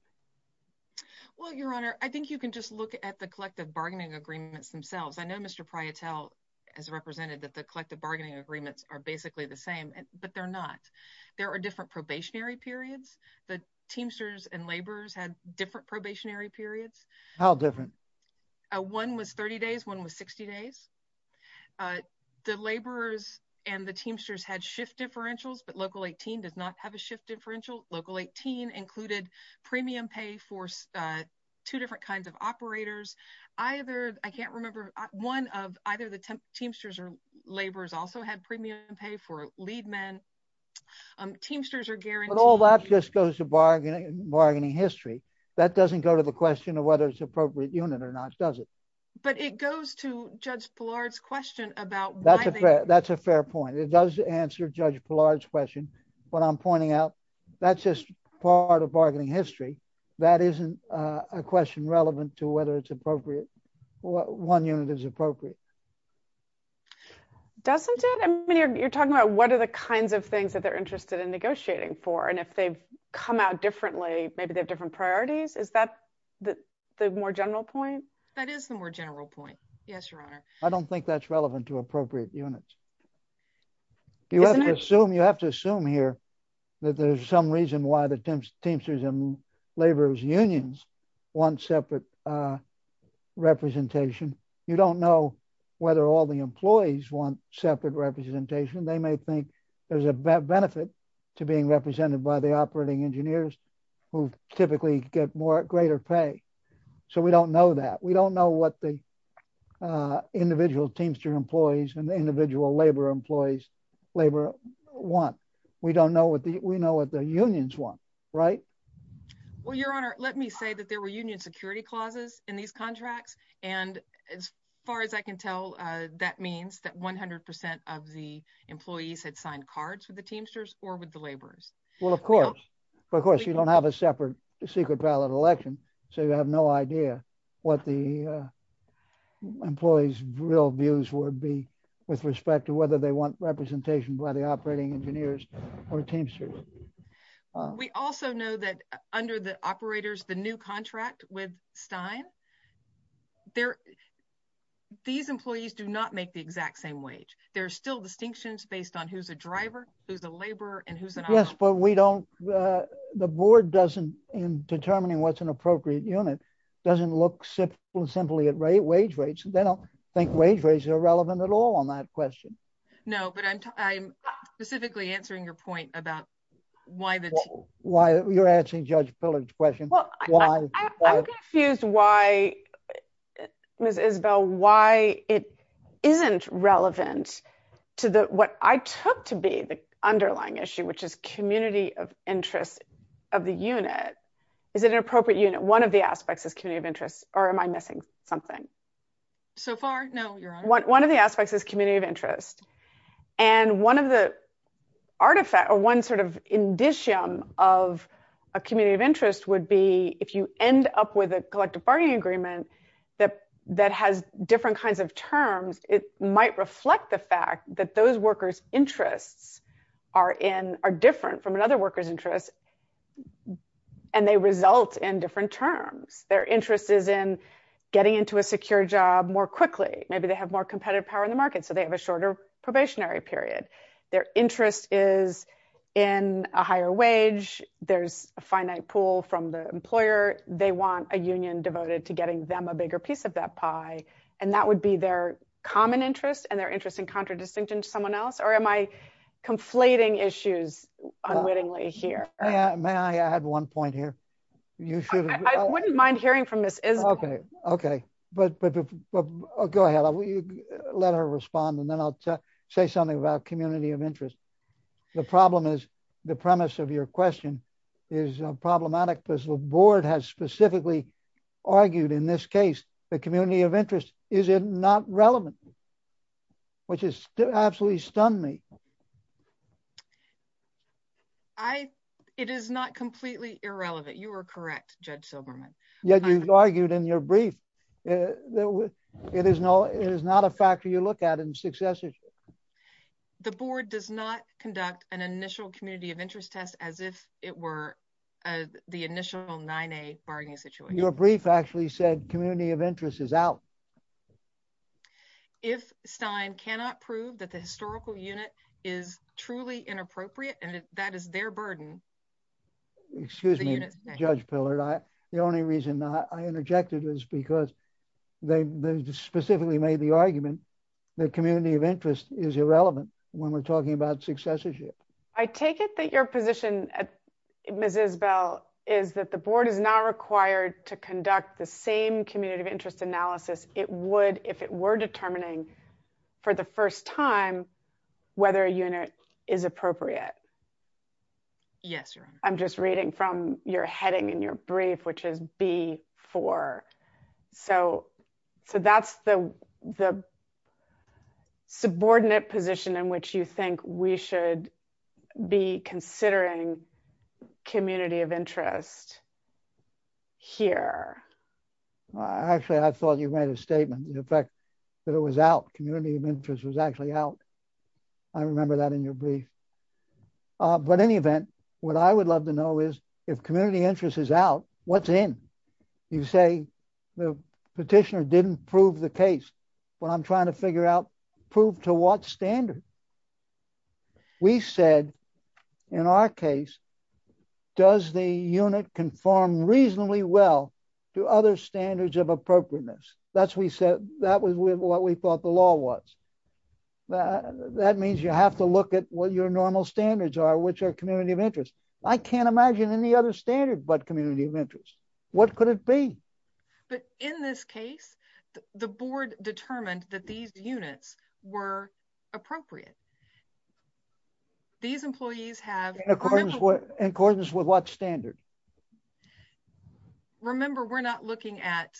Well, Your Honor, I think you can just look at the collective bargaining agreements themselves. I know Mr. Pryotel has represented that the collective bargaining agreements are basically the same, but they're not. There are different probationary periods. The Teamsters and laborers had different probationary periods. How different? One was 30 days, one was 60 days. The laborers and the Teamsters had shift differentials, but Local 18 does not have a shift differential. Local 18 included premium pay for two different kinds of operators. I can't remember one of either the Teamsters and laborers also had premium pay for lead men. Teamsters are guaranteed. But all that just goes to bargaining history. That doesn't go to the question of whether it's an appropriate unit or not, does it? But it goes to Judge Pillard's question about why. That's a fair point. It does answer Judge Pillard's question. What I'm pointing out, that's just part of bargaining history. That isn't a question relevant to whether it's appropriate. One unit is appropriate. Doesn't it? I mean, you're talking about what are the kinds of things that they're interested in negotiating for? And if they come out differently, maybe they're different priorities. Is that the more general point? That is the more general point. Yes, Your Honor. I don't think that's relevant to appropriate units. You have to assume here that there's some reason why the Teamsters and laborers unions want separate representation. You don't know whether all the employees want separate representation. They may think there's a benefit to being represented by the operating engineers who typically get greater pay. So we don't know that. We don't know what the individual Teamster employees and the individual labor employees labor want. We don't know what we know what the unions want. Right. Well, Your Honor, let me say that there were union security clauses in these contracts. And as far as I can tell, that means that 100 percent of the employees had signed cards with the Teamsters or with the laborers. Well, of course. Of course, you don't have a separate secret ballot election. So you have no idea what the employees real views would be with respect to whether they want representation by the operating engineers or Teamsters. We also know that under the operators, the new contract with Stein. These employees do not make the exact same wage. There are still distinctions based on who's a driver, who's a laborer and who's an operator. Yes, but we don't the board doesn't in determining what's an appropriate unit doesn't look simply at rate wage rates. They don't think wage rates are relevant at all on that question. No, but I'm specifically answering your point about why. You're asking Judge Pillard's question. Why? Here's why, Ms. Isabel, why it isn't relevant to what I took to be the underlying issue, which is community of interest of the unit. Is it an appropriate unit? One of the aspects of community of interest or am I missing something? So far, no, Your Honor. One of the aspects is community of interest. And one of the artifacts or one sort of indicium of a community of interest would be if you end up with a collective bargaining agreement that that has different kinds of terms. It might reflect the fact that those workers interests are in are different from another worker's interest. And they result in different terms. Their interest is in getting into a secure job more quickly. Maybe they have more competitive power in the market, so they have a shorter probationary period. Their interest is in a higher wage. There's a finite pool from the employer. They want a union devoted to getting them a bigger piece of that pie. And that would be their common interest and their interest in contradistinction to someone else. Or am I conflating issues unwittingly here? May I add one point here? I wouldn't mind hearing from Ms. Isabel. Okay. Okay. Go ahead. Let her respond, and then I'll say something about community of interest. The problem is the premise of your question is problematic because the board has specifically argued in this case the community of interest. Is it not relevant? Which has absolutely stunned me. It is not completely irrelevant. You are correct, Judge Silberman. Yet you've argued in your brief that it is not a factor you look at in successes. The board does not conduct an initial community of interest test as if it were the initial 9A bargaining situation. Your brief actually said community of interest is out. If Stein cannot prove that the historical unit is truly inappropriate and that is their burden. Excuse me, Judge Pillard. The only reason I interjected is because they specifically made the argument that community of interest is irrelevant when we're talking about successorship. I take it that your position, Ms. Isabel, is that the board is not required to conduct the same community of interest analysis it would if it were determining for the first time whether a unit is appropriate. Yes. I'm just reading from your heading in your brief, which is B4. So that's the subordinate position in which you think we should be considering community of interest here. Actually, I thought you made a statement. The fact that it was out, community of interest, was actually out. I remember that in your brief. But in any event, what I would love to know is if community interest is out, what's in? You say the petitioner didn't prove the case. What I'm trying to figure out, prove to what standard? We said in our case, does the unit conform reasonably well to other standards of appropriateness? That's what we thought the law was. That means you have to look at what your normal standards are, which are community of interest. I can't imagine any other standard but community of interest. What could it be? In this case, the board determined that these units were appropriate. These employees have... In accordance with what standard? Remember, we're not looking at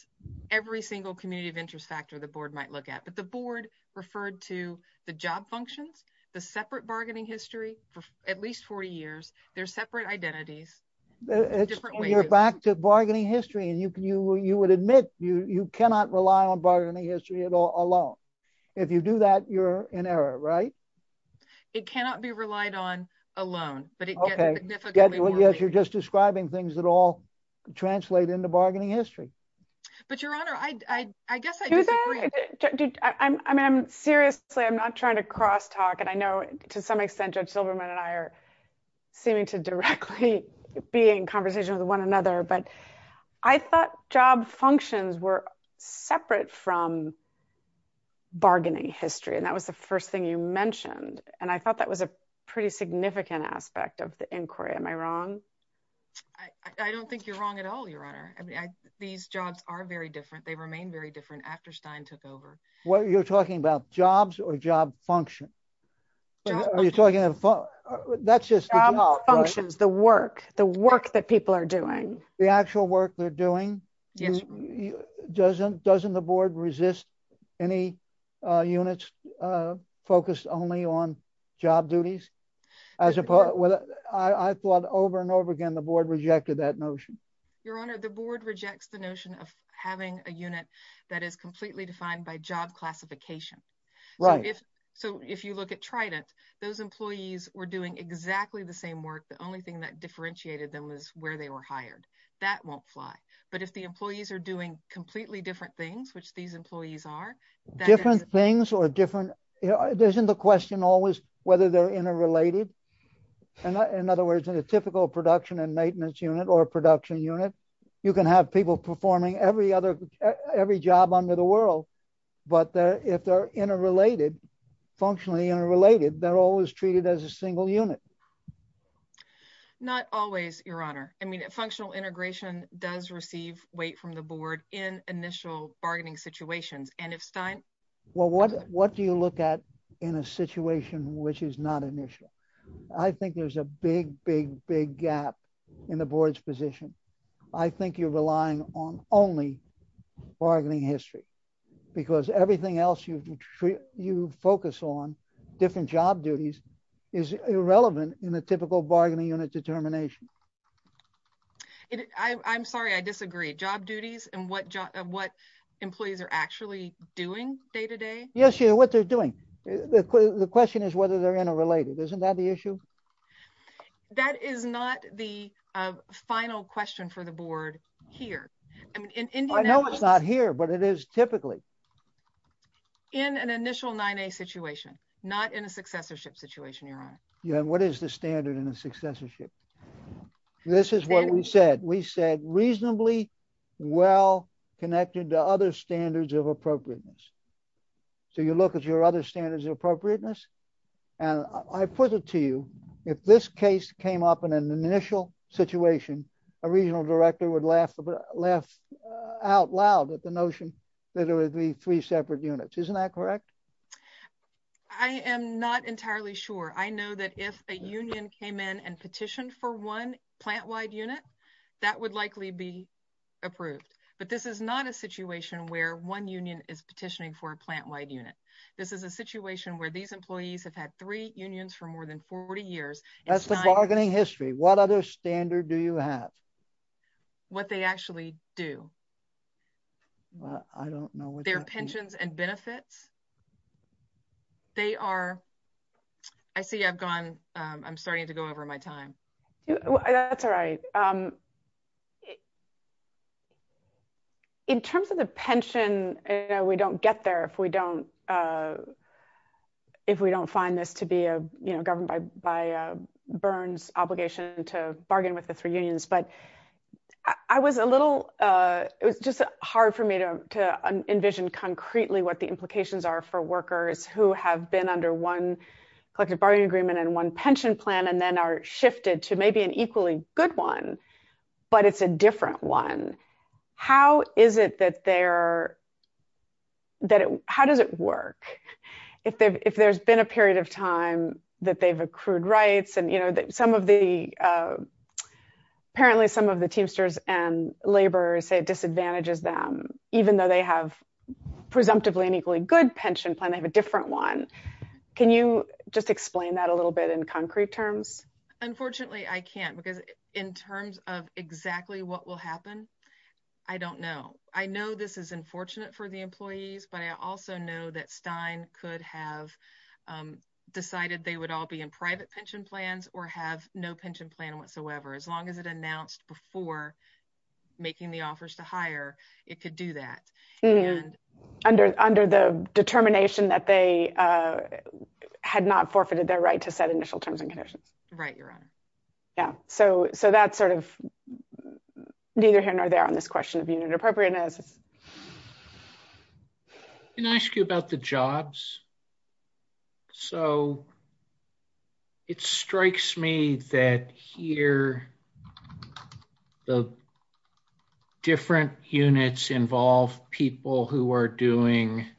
every single community of interest factor the board might look at. But the board referred to the job function, the separate bargaining history for at least four years, their separate identities. You're back to bargaining history. You would admit you cannot rely on bargaining history alone. If you do that, you're in error, right? It cannot be relied on alone. You're just describing things that all translate into bargaining history. Your Honor, I guess I disagree. Seriously, I'm not trying to crosstalk. I know to some extent Judge Silverman and I are seeming to directly be in conversation with one another. I thought job functions were separate from bargaining history. That was the first thing you mentioned. I thought that was a pretty significant aspect of the inquiry. Am I wrong? I don't think you're wrong at all, Your Honor. These jobs are very different. They remain very different after Stein took over. You're talking about jobs or job functions? Are you talking about... Job functions, the work. The work that people are doing. The actual work they're doing? Yes. Doesn't the Board resist any units focused only on job duties? I thought over and over again the Board rejected that notion. Your Honor, the Board rejects the notion of having a unit that is completely defined by job classification. Right. If you look at Trident, those employees were doing exactly the same work. The only thing that differentiated them was where they were hired. That won't fly. But if the employees are doing completely different things, which these employees are... Different things or different... Isn't the question always whether they're interrelated? In other words, in a typical production and maintenance unit or a production unit, you can have people performing every job under the world. But if they're interrelated, functionally interrelated, they're always treated as a single unit. Not always, Your Honor. I mean, functional integration does receive weight from the Board in initial bargaining situations. And it's time... Well, what do you look at in a situation which is not an issue? I think there's a big, big, big gap in the Board's position. I think you're relying on only bargaining history. Because everything else you focus on, different job duties, is irrelevant in the typical bargaining unit determination. I'm sorry. I disagree. Job duties and what employees are actually doing day-to-day? Yes, Your Honor, what they're doing. The question is whether they're interrelated. Isn't that the issue? That is not the final question for the Board here. I know it's not here, but it is typically. In an initial 9A situation, not in a successorship situation, Your Honor. What is the standard in a successorship? This is what we said. We said reasonably well connected to other standards of appropriateness. So you look at your other standards of appropriateness. And I put it to you, if this case came up in an initial situation, a regional director would laugh out loud at the notion that there would be three separate units. Isn't that correct? I am not entirely sure. I know that if a union came in and petitioned for one plant-wide unit, that would likely be approved. But this is not a situation where one union is petitioning for a plant-wide unit. This is a situation where these employees have had three unions for more than 40 years. That's the bargaining history. What other standard do you have? What they actually do. I don't know. Their pensions and benefits. I see I'm starting to go over my time. That's all right. In terms of the pension, we don't get there if we don't find this to be an issue. I'm going to go back to the question of, you know, governed by Byrne's obligation to bargain with the free unions. But I was a little, it was just hard for me to envision concretely what the implications are for workers who have been under one. Collective bargaining agreement and one pension plan, and then are shifted to maybe an equally good one. But it's a different one. How is it that there. How does it work? If there's been a period of time that they've accrued rights and, you know, some of the. Apparently some of the teamsters and labor say disadvantages them, even though they have presumptively an equally good pension plan, they have a different one. Can you just explain that a little bit in concrete terms? Unfortunately, I can't. In terms of exactly what will happen. I don't know. I know this is unfortunate for the employees, but I also know that Stein could have. Decided they would all be in private pension plans or have no pension plan whatsoever. As long as it announced before. Making the offers to hire. It could do that. Under the determination that they. Had not forfeited their right to set initial terms and conditions. Right. Your honor. Yeah. So, so that's sort of. I don't know. Neither here nor there on this question of unit appropriateness. Can I ask you about the jobs? So. It strikes me that here. The. Different units involve people who are doing. And.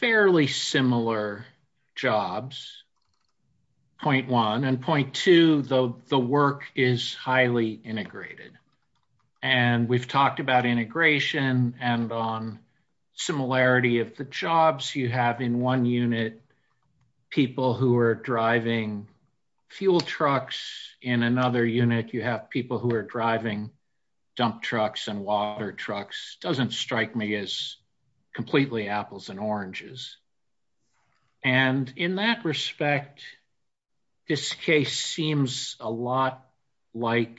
Fairly similar jobs. Point one and point two, though, the work is highly integrated. And we've talked about integration and on. Similarity of the jobs you have in one unit. People who are driving. You have people who are driving. Fuel trucks in another unit. You have people who are driving. Dump trucks and water trucks. Doesn't strike me as. Completely apples and oranges. And in that respect. This case seems a lot like.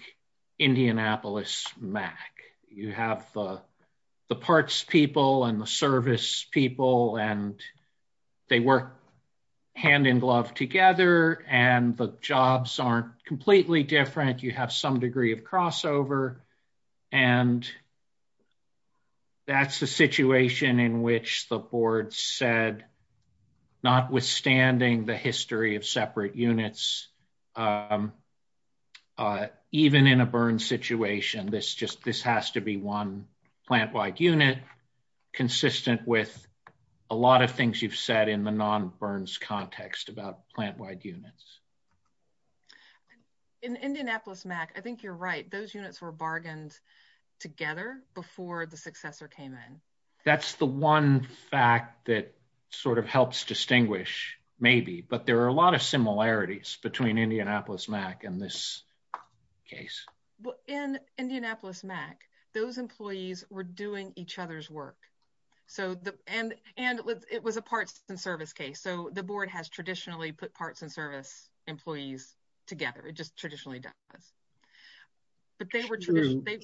Indianapolis Mac, you have. You have the. The parts people and the service people and. They work. Hand in glove together and the jobs aren't completely different. You have some degree of crossover. And. That's the situation in which the board said. And. Not withstanding the history of separate units. Even in a burn situation, this just, this has to be one plant wide unit. Consistent with. A lot of things you've said in the non burns context about plant wide units. In Indianapolis Mac. I think you're right. Those units were bargained. And. Parts and service. Together before the successor came in. That's the one fact that. Sort of helps distinguish maybe, but there are a lot of similarities between Indianapolis Mac and this. Case. In Indianapolis Mac, those employees were doing each other's work. So the, and, and it was, it was a parts and service case. So the board has traditionally put parts and service. Employees together. It just traditionally does. But they were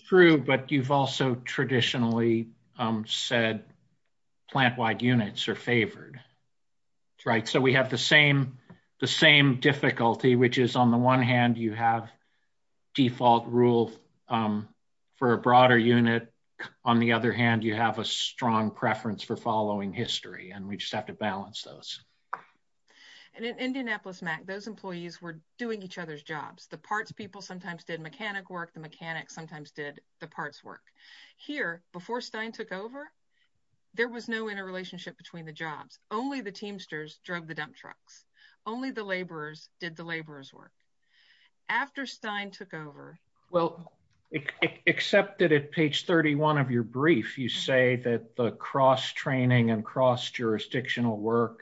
true, but you've also traditionally said. Plant wide units are favored. Right. So we have the same. The same difficulty, which is on the one hand, you have. Default rule. For a broader unit. And then on the other hand, you have a strong preference for following history and we just have to balance those. And in Indianapolis Mac, those employees were doing each other's jobs. The parts people sometimes did mechanic work. The mechanic sometimes did the parts work. Here before Stein took over. There was no interrelationship between the job. Only the teamsters drug, the dump trucks. Only the laborers did the laborers work. After Stein took over. I'm sorry. I didn't hear you. Well. Except that at page 31 of your brief, you say that the cross training and cross jurisdictional work.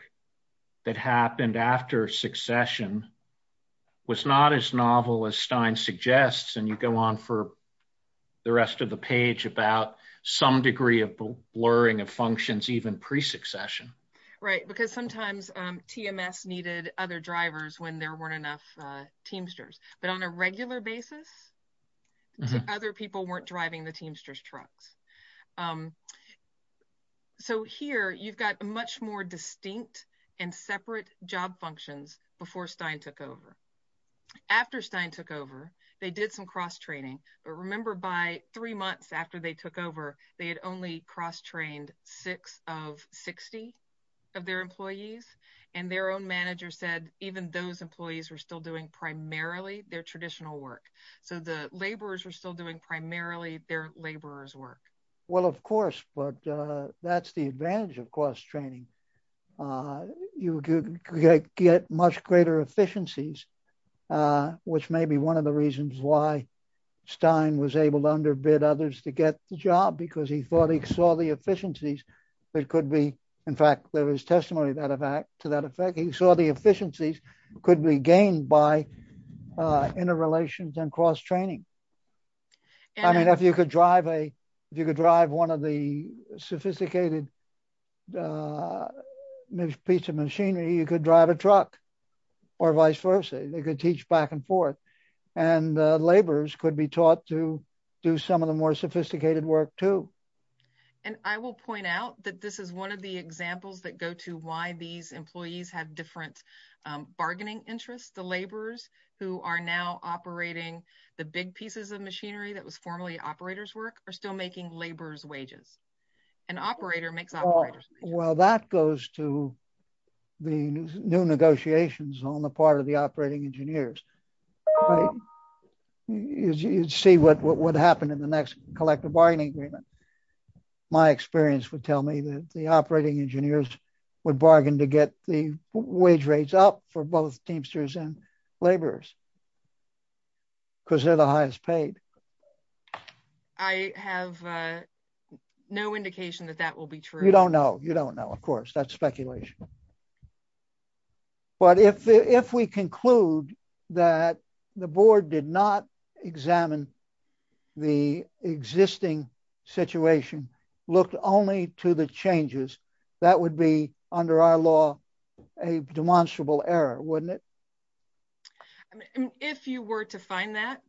That happened after succession. Was not as novel as Stein suggests. And you go on for. The rest of the page about some degree of blurring of functions, you can see that there was not a lot of communication. I think it was even pre succession. Right? Because sometimes TMS needed other drivers when there weren't enough. Teamsters, but on a regular basis. Other people weren't driving the teamsters trucks. So here. You've got much more distinct and separate job functions before Stein took over. After Stein took over. They did some cross training. But remember by three months after they took over, they had only cross trained six of 60. Of their employees and their own manager said, even those employees were still doing primarily their traditional work. So the laborers were still doing primarily their laborers work. Well, of course, but that's the advantage of cost training. You get much greater efficiencies. Which may be one of the reasons why Stein was able to underbid others to get the job, because he thought he saw the efficiencies. It could be. In fact, there was testimony of that effect to that effect. He saw the efficiencies could be gained by interrelations and cross training. I mean, if you could drive a. If you could drive one of the sophisticated. Piece of machinery, you could drive a truck. Or vice versa. They could teach back and forth and the laborers could be taught to do some of the more sophisticated work too. And I will point out that this is one of the examples that go to why these employees have different bargaining interests. The laborers who are now operating. The big pieces of machinery that was formerly operators work are still making laborers wages. An operator makes. Well, that goes to. The new negotiations on the part of the operating engineers. You see what would happen in the next collective bargaining agreement. My experience would tell me that the operating engineers would bargain to get the wage rates up for both teamsters and laborers. Because they're the highest paid. I have no indication that that will be true. You don't know. You don't know. Of course, that's speculation. But if we conclude that the board did not examine the existing situation, look only to the changes that would be under our law a demonstrable error, wouldn't it? If you were to find that,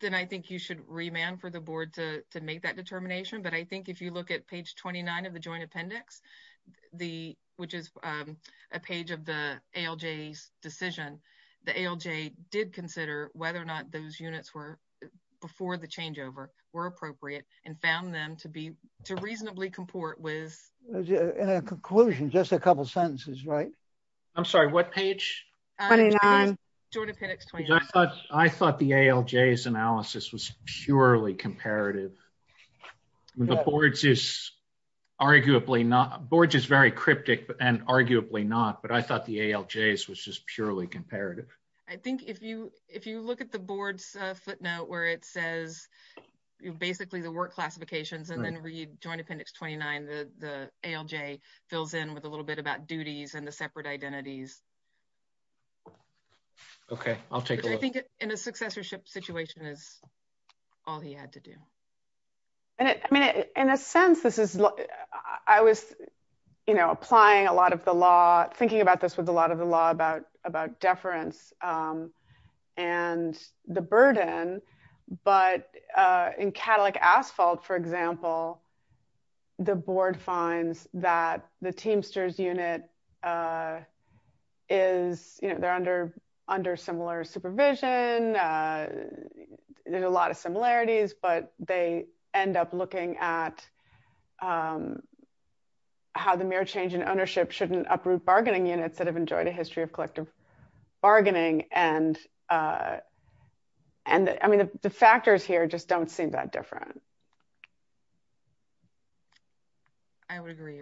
then I think you should remand for the board to make that determination. But I think if you look at page 29 of the joint appendix, which is a page of the ALJ decision, the ALJ did consider whether or not those units were before the changeover were appropriate and found them to reasonably comport with. Conclusion, just a couple of sentences, right? I'm sorry, what page? I thought the ALJ analysis was purely comparative. The boards is arguably not, boards is very cryptic and arguably not, but I thought the ALJs was just purely comparative. I think if you, if you look at the board's footnote where it says basically the work classifications and then read joint appendix 29, the ALJ fills in with a little bit about duties and the separate identities. Okay, I'll take a look. I think in a successorship situation is all he had to do. I mean, in a sense, this is, I was, you know, applying a lot of the law thinking about this with a lot of the law about, about deference and the burden, but in Cadillac asphalt, for example, the board finds that the Teamsters unit is, you know, they're under, under similar supervision, there's a lot of similarities, but they end up looking at how the mere change in ownership shouldn't uproot bargaining units that have enjoyed a history of collective bargaining. And, and I mean, the factors here just don't seem that different. I would agree.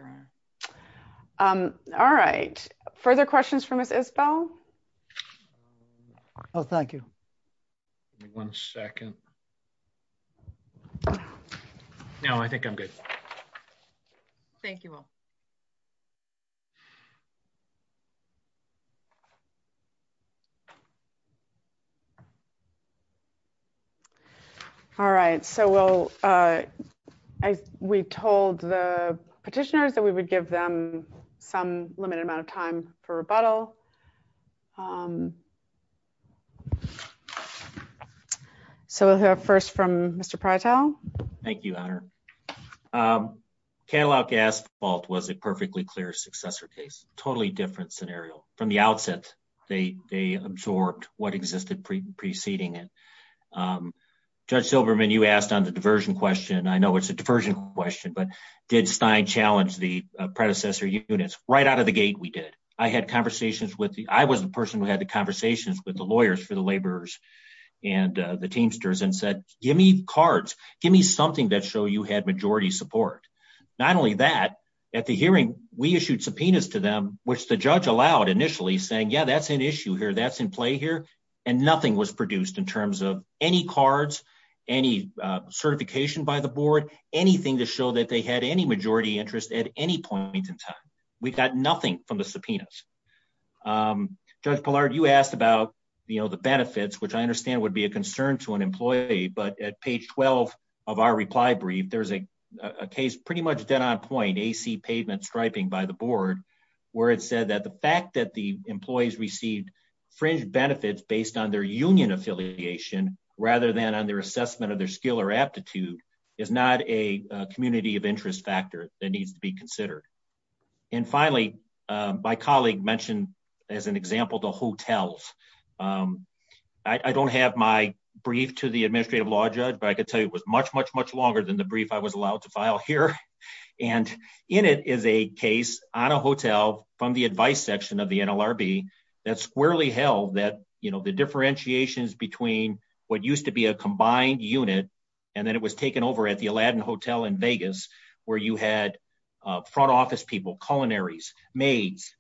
All right. Further questions for Ms. Isbell? Oh, thank you. One second. No, I think I'm good. Thank you. All right. So we'll, we told the petitioners that we would give them some limited amount of time for rebuttal. So we'll have first from Mr. Prozell. Thank you. Cadillac asphalt was a perfectly clear successor case, totally different scenario from the outset. They, they absorbed what existed pre preceding it. Judge Silverman, you asked on the diversion question. I know it's a diversion question, but did Stein challenge the predecessor units right out of the gate? We did. I had conversations with the, I was the person who had the conversations with the lawyers for the laborers and the teamsters and said, give me cards, give me something that show you had majority support. Not only that, at the hearing, we issued subpoenas to them, which the judge allowed initially saying, yeah, that's an issue here. That's in play here. And nothing was produced in terms of any cards, any certification by the board, anything to show that they had any majority interest at any point in time. We got nothing from the subpoenas. Judge Pollard, you asked about, you know, the benefits, which I understand would be a concern to an employee, but at page 12 of our reply brief, there's a, a case, pretty much dead on point AC pavement striping by the board where it said that the fact that the employees received fringe benefits based on their union affiliation, rather than on their assessment of their skill or aptitude is not a community of interest factor that needs to be considered. And finally my colleague mentioned as an example, the hotels, I don't have my brief to the administrative law judge, but I could tell you, it was much, much, much longer than the brief I was allowed to file here. And in it is a case on a hotel from the advice section of the NLRB that squarely held that, you know, the differentiations between what used to be a combined unit. And then it was taken over at the Aladdin hotel in Vegas, where you had a front office, people, culinaries, maids,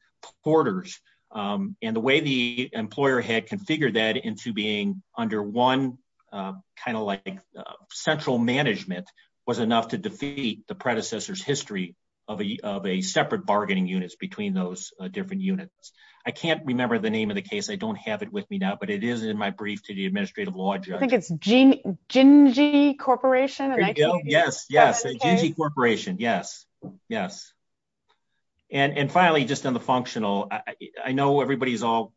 and the way the employer had configured that into being under one kind of like central management was enough to defeat the predecessor's history of a, of a separate bargaining units between those different units. I can't remember the name of the case. I don't have it with me now, but it is in my brief to the administrative law. Gene Genji corporation. Yes. Yes. Corporation. Yes. Yes. And finally, just on the functional, I know everybody's all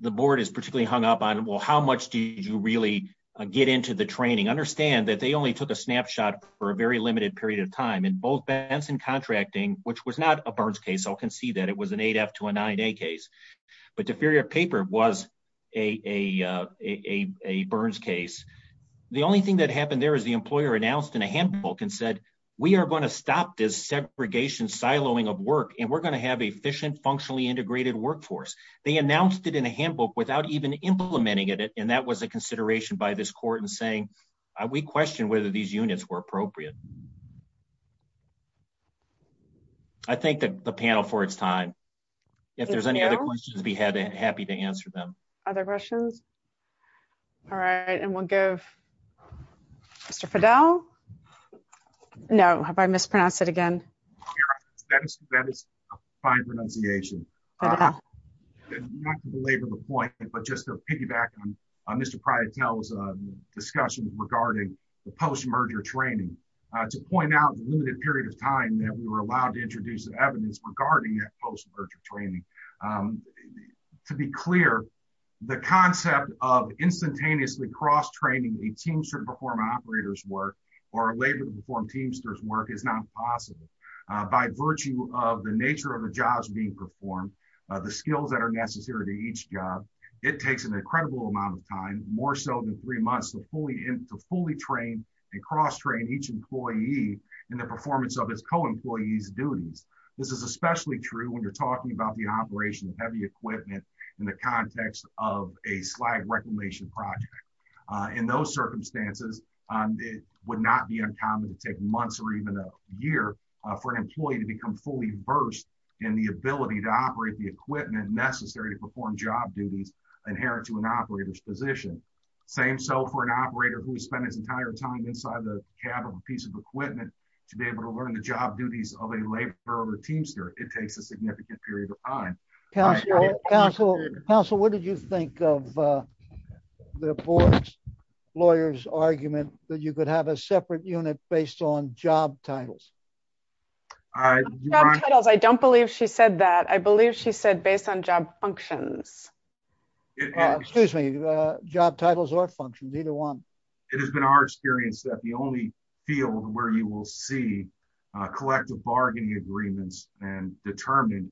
the board is particularly hung up on it. Well, how much do you really get into the training? Understand that they only took a snapshot for a very limited period of time in both bands and contracting, which was not a burns case. I'll concede that it was an eight F to a nine a case, but the theory of paper was a, a, a, a burns case. The only thing that happened there is the employer announced in a handbook and said, we are going to stop this segregation, siloing of work and we're going to have efficient, functionally integrated workforce. They announced it in a handbook without even implementing it. And that was a consideration by this court and saying, we questioned whether these units were appropriate. I think that the panel for its time, if there's any other questions, we have a happy to answer them. Other Russians. All right. And we'll go to Fidel. No, have I mispronounced it again? That is fine. Not to belabor the point, but just to piggyback on, on this surprise, no discussion regarding the post-merger training to point out the limited period of time that we were allowed to introduce the evidence regarding that post-merger training to be clear, the concept of instantaneously cross-training a teamster to perform operators work or labor to perform teamsters work is not possible by virtue of the nature of the jobs being performed, the skills that are necessary to each job. It takes an incredible amount of time, more so than three months to fully fully train and cross-train each employee and the performance of its co-employees duty. This is especially true when you're talking about the operation of heavy equipment in the context of a slide reclamation project. In those circumstances, it would not be uncommon to take months or even a year for an employee to become fully versed in the ability to operate the equipment necessary to perform job duties inherent to an operator's position. Same. So for an operator who spent his entire time inside the cab of a piece of equipment to be able to learn the job duties of a labor or a teamster, it takes a significant period of time. Counsel, what did you think of the lawyer's argument that you could have a separate unit based on job titles? I don't believe she said that. I believe she said based on job functions, excuse me, job titles or functions, either one. It has been our experience that the only field where you will see a collective bargaining agreements and determined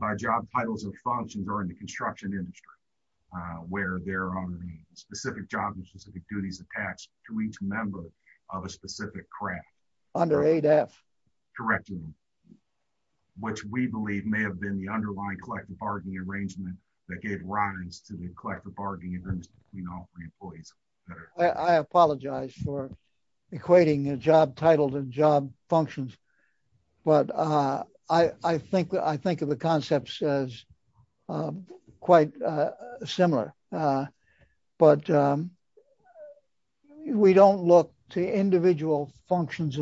by job titles and functions are in the construction industry, where there are the specific jobs and specific duties attached to each member of a specific craft. Under ADAPT. Correct. Which we believe may have been the underlying collective bargaining arrangement that gave rise to the collective bargaining agreements between all three employees. I apologize for equating the job titles and job functions but I think of the concepts as quite similar. But we don't look to individual functions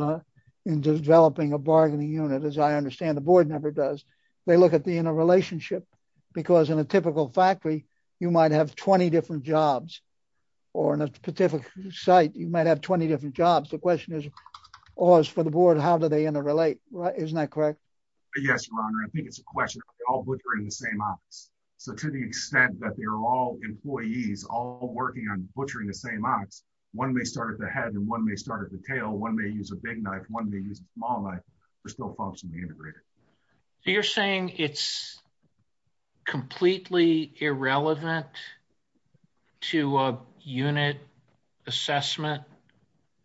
in developing a bargaining unit. As I understand, the board never does. They look at the interrelationship because in a typical factory, you might have 20 different jobs or in a particular site, you might have 20 different jobs. The question is, for the board, how do they interrelate? Isn't that correct? Yes, Your Honor. I think it's a question of all butchering the same office. To the extent that they're all employees all working on butchering the same office, one may start at the head and one may start at the tail. One may use a big knife, one may use a small knife, but still function the integrator. You're saying it's completely irrelevant to a unit assessment,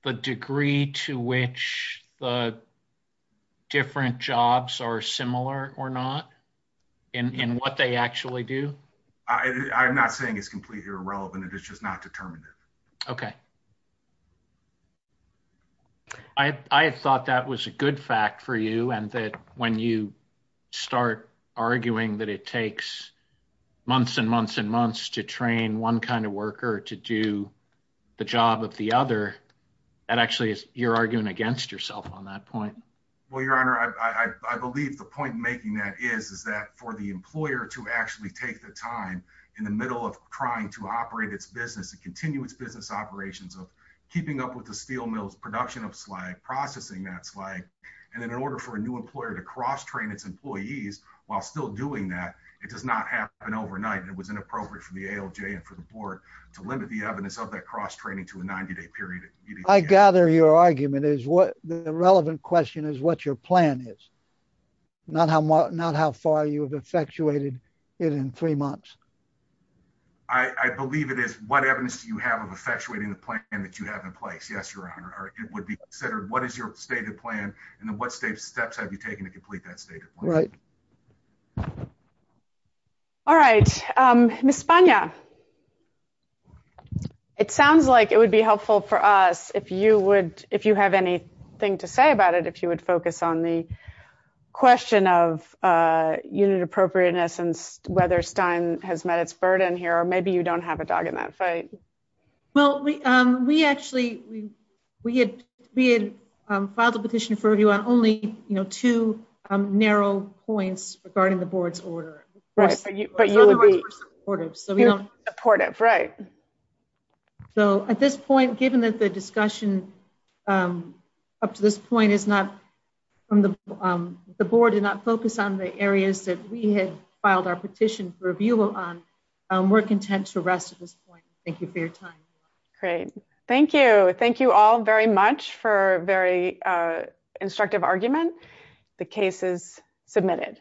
the degree to which the different jobs are similar or not in what they actually do? I'm not saying it's completely irrelevant. It's just not determinative. Okay. I thought that was a good fact for you and that when you start arguing that it takes months and months and months to train one kind of worker to do the job of the other, that actually you're arguing against yourself on that point. Well, Your Honor, I believe the point making that is, is that for the employer to actually take the time in the middle of trying to operate its business and continue its business operations of keeping up with the steel mill's production of swag, processing that swag, and then in order for a new employer to cross-train its employees while still doing that, it does not happen overnight. And it was inappropriate for the ALJ and for the board to limit the evidence of that cross-training to a 90-day period. I gather your argument is the relevant question is what your plan is, not how far you have effectuated it in three months. I believe it is. What evidence do you have of effectuating the plan that you have in place? Yes, Your Honor. It would be considered what is your stated plan and what steps have you taken to complete that stated plan? Right. Ms. Spagna, it sounds like it would be helpful for us, if you have anything to say about it, if you would focus on the question of unit appropriateness and whether Stein has met its burden here, or maybe you don't have a dog in that fight. Well, we actually filed a petition for review on only two narrow points regarding the board's order. Right. But you would be supportive. Right. So at this point, given that the discussion up to this point is not, the board did not focus on the areas that we had filed our petition for review on, we're content to rest at this point. Thank you for your time. Great. Thank you. Thank you all very much for a very instructive argument. The case is submitted.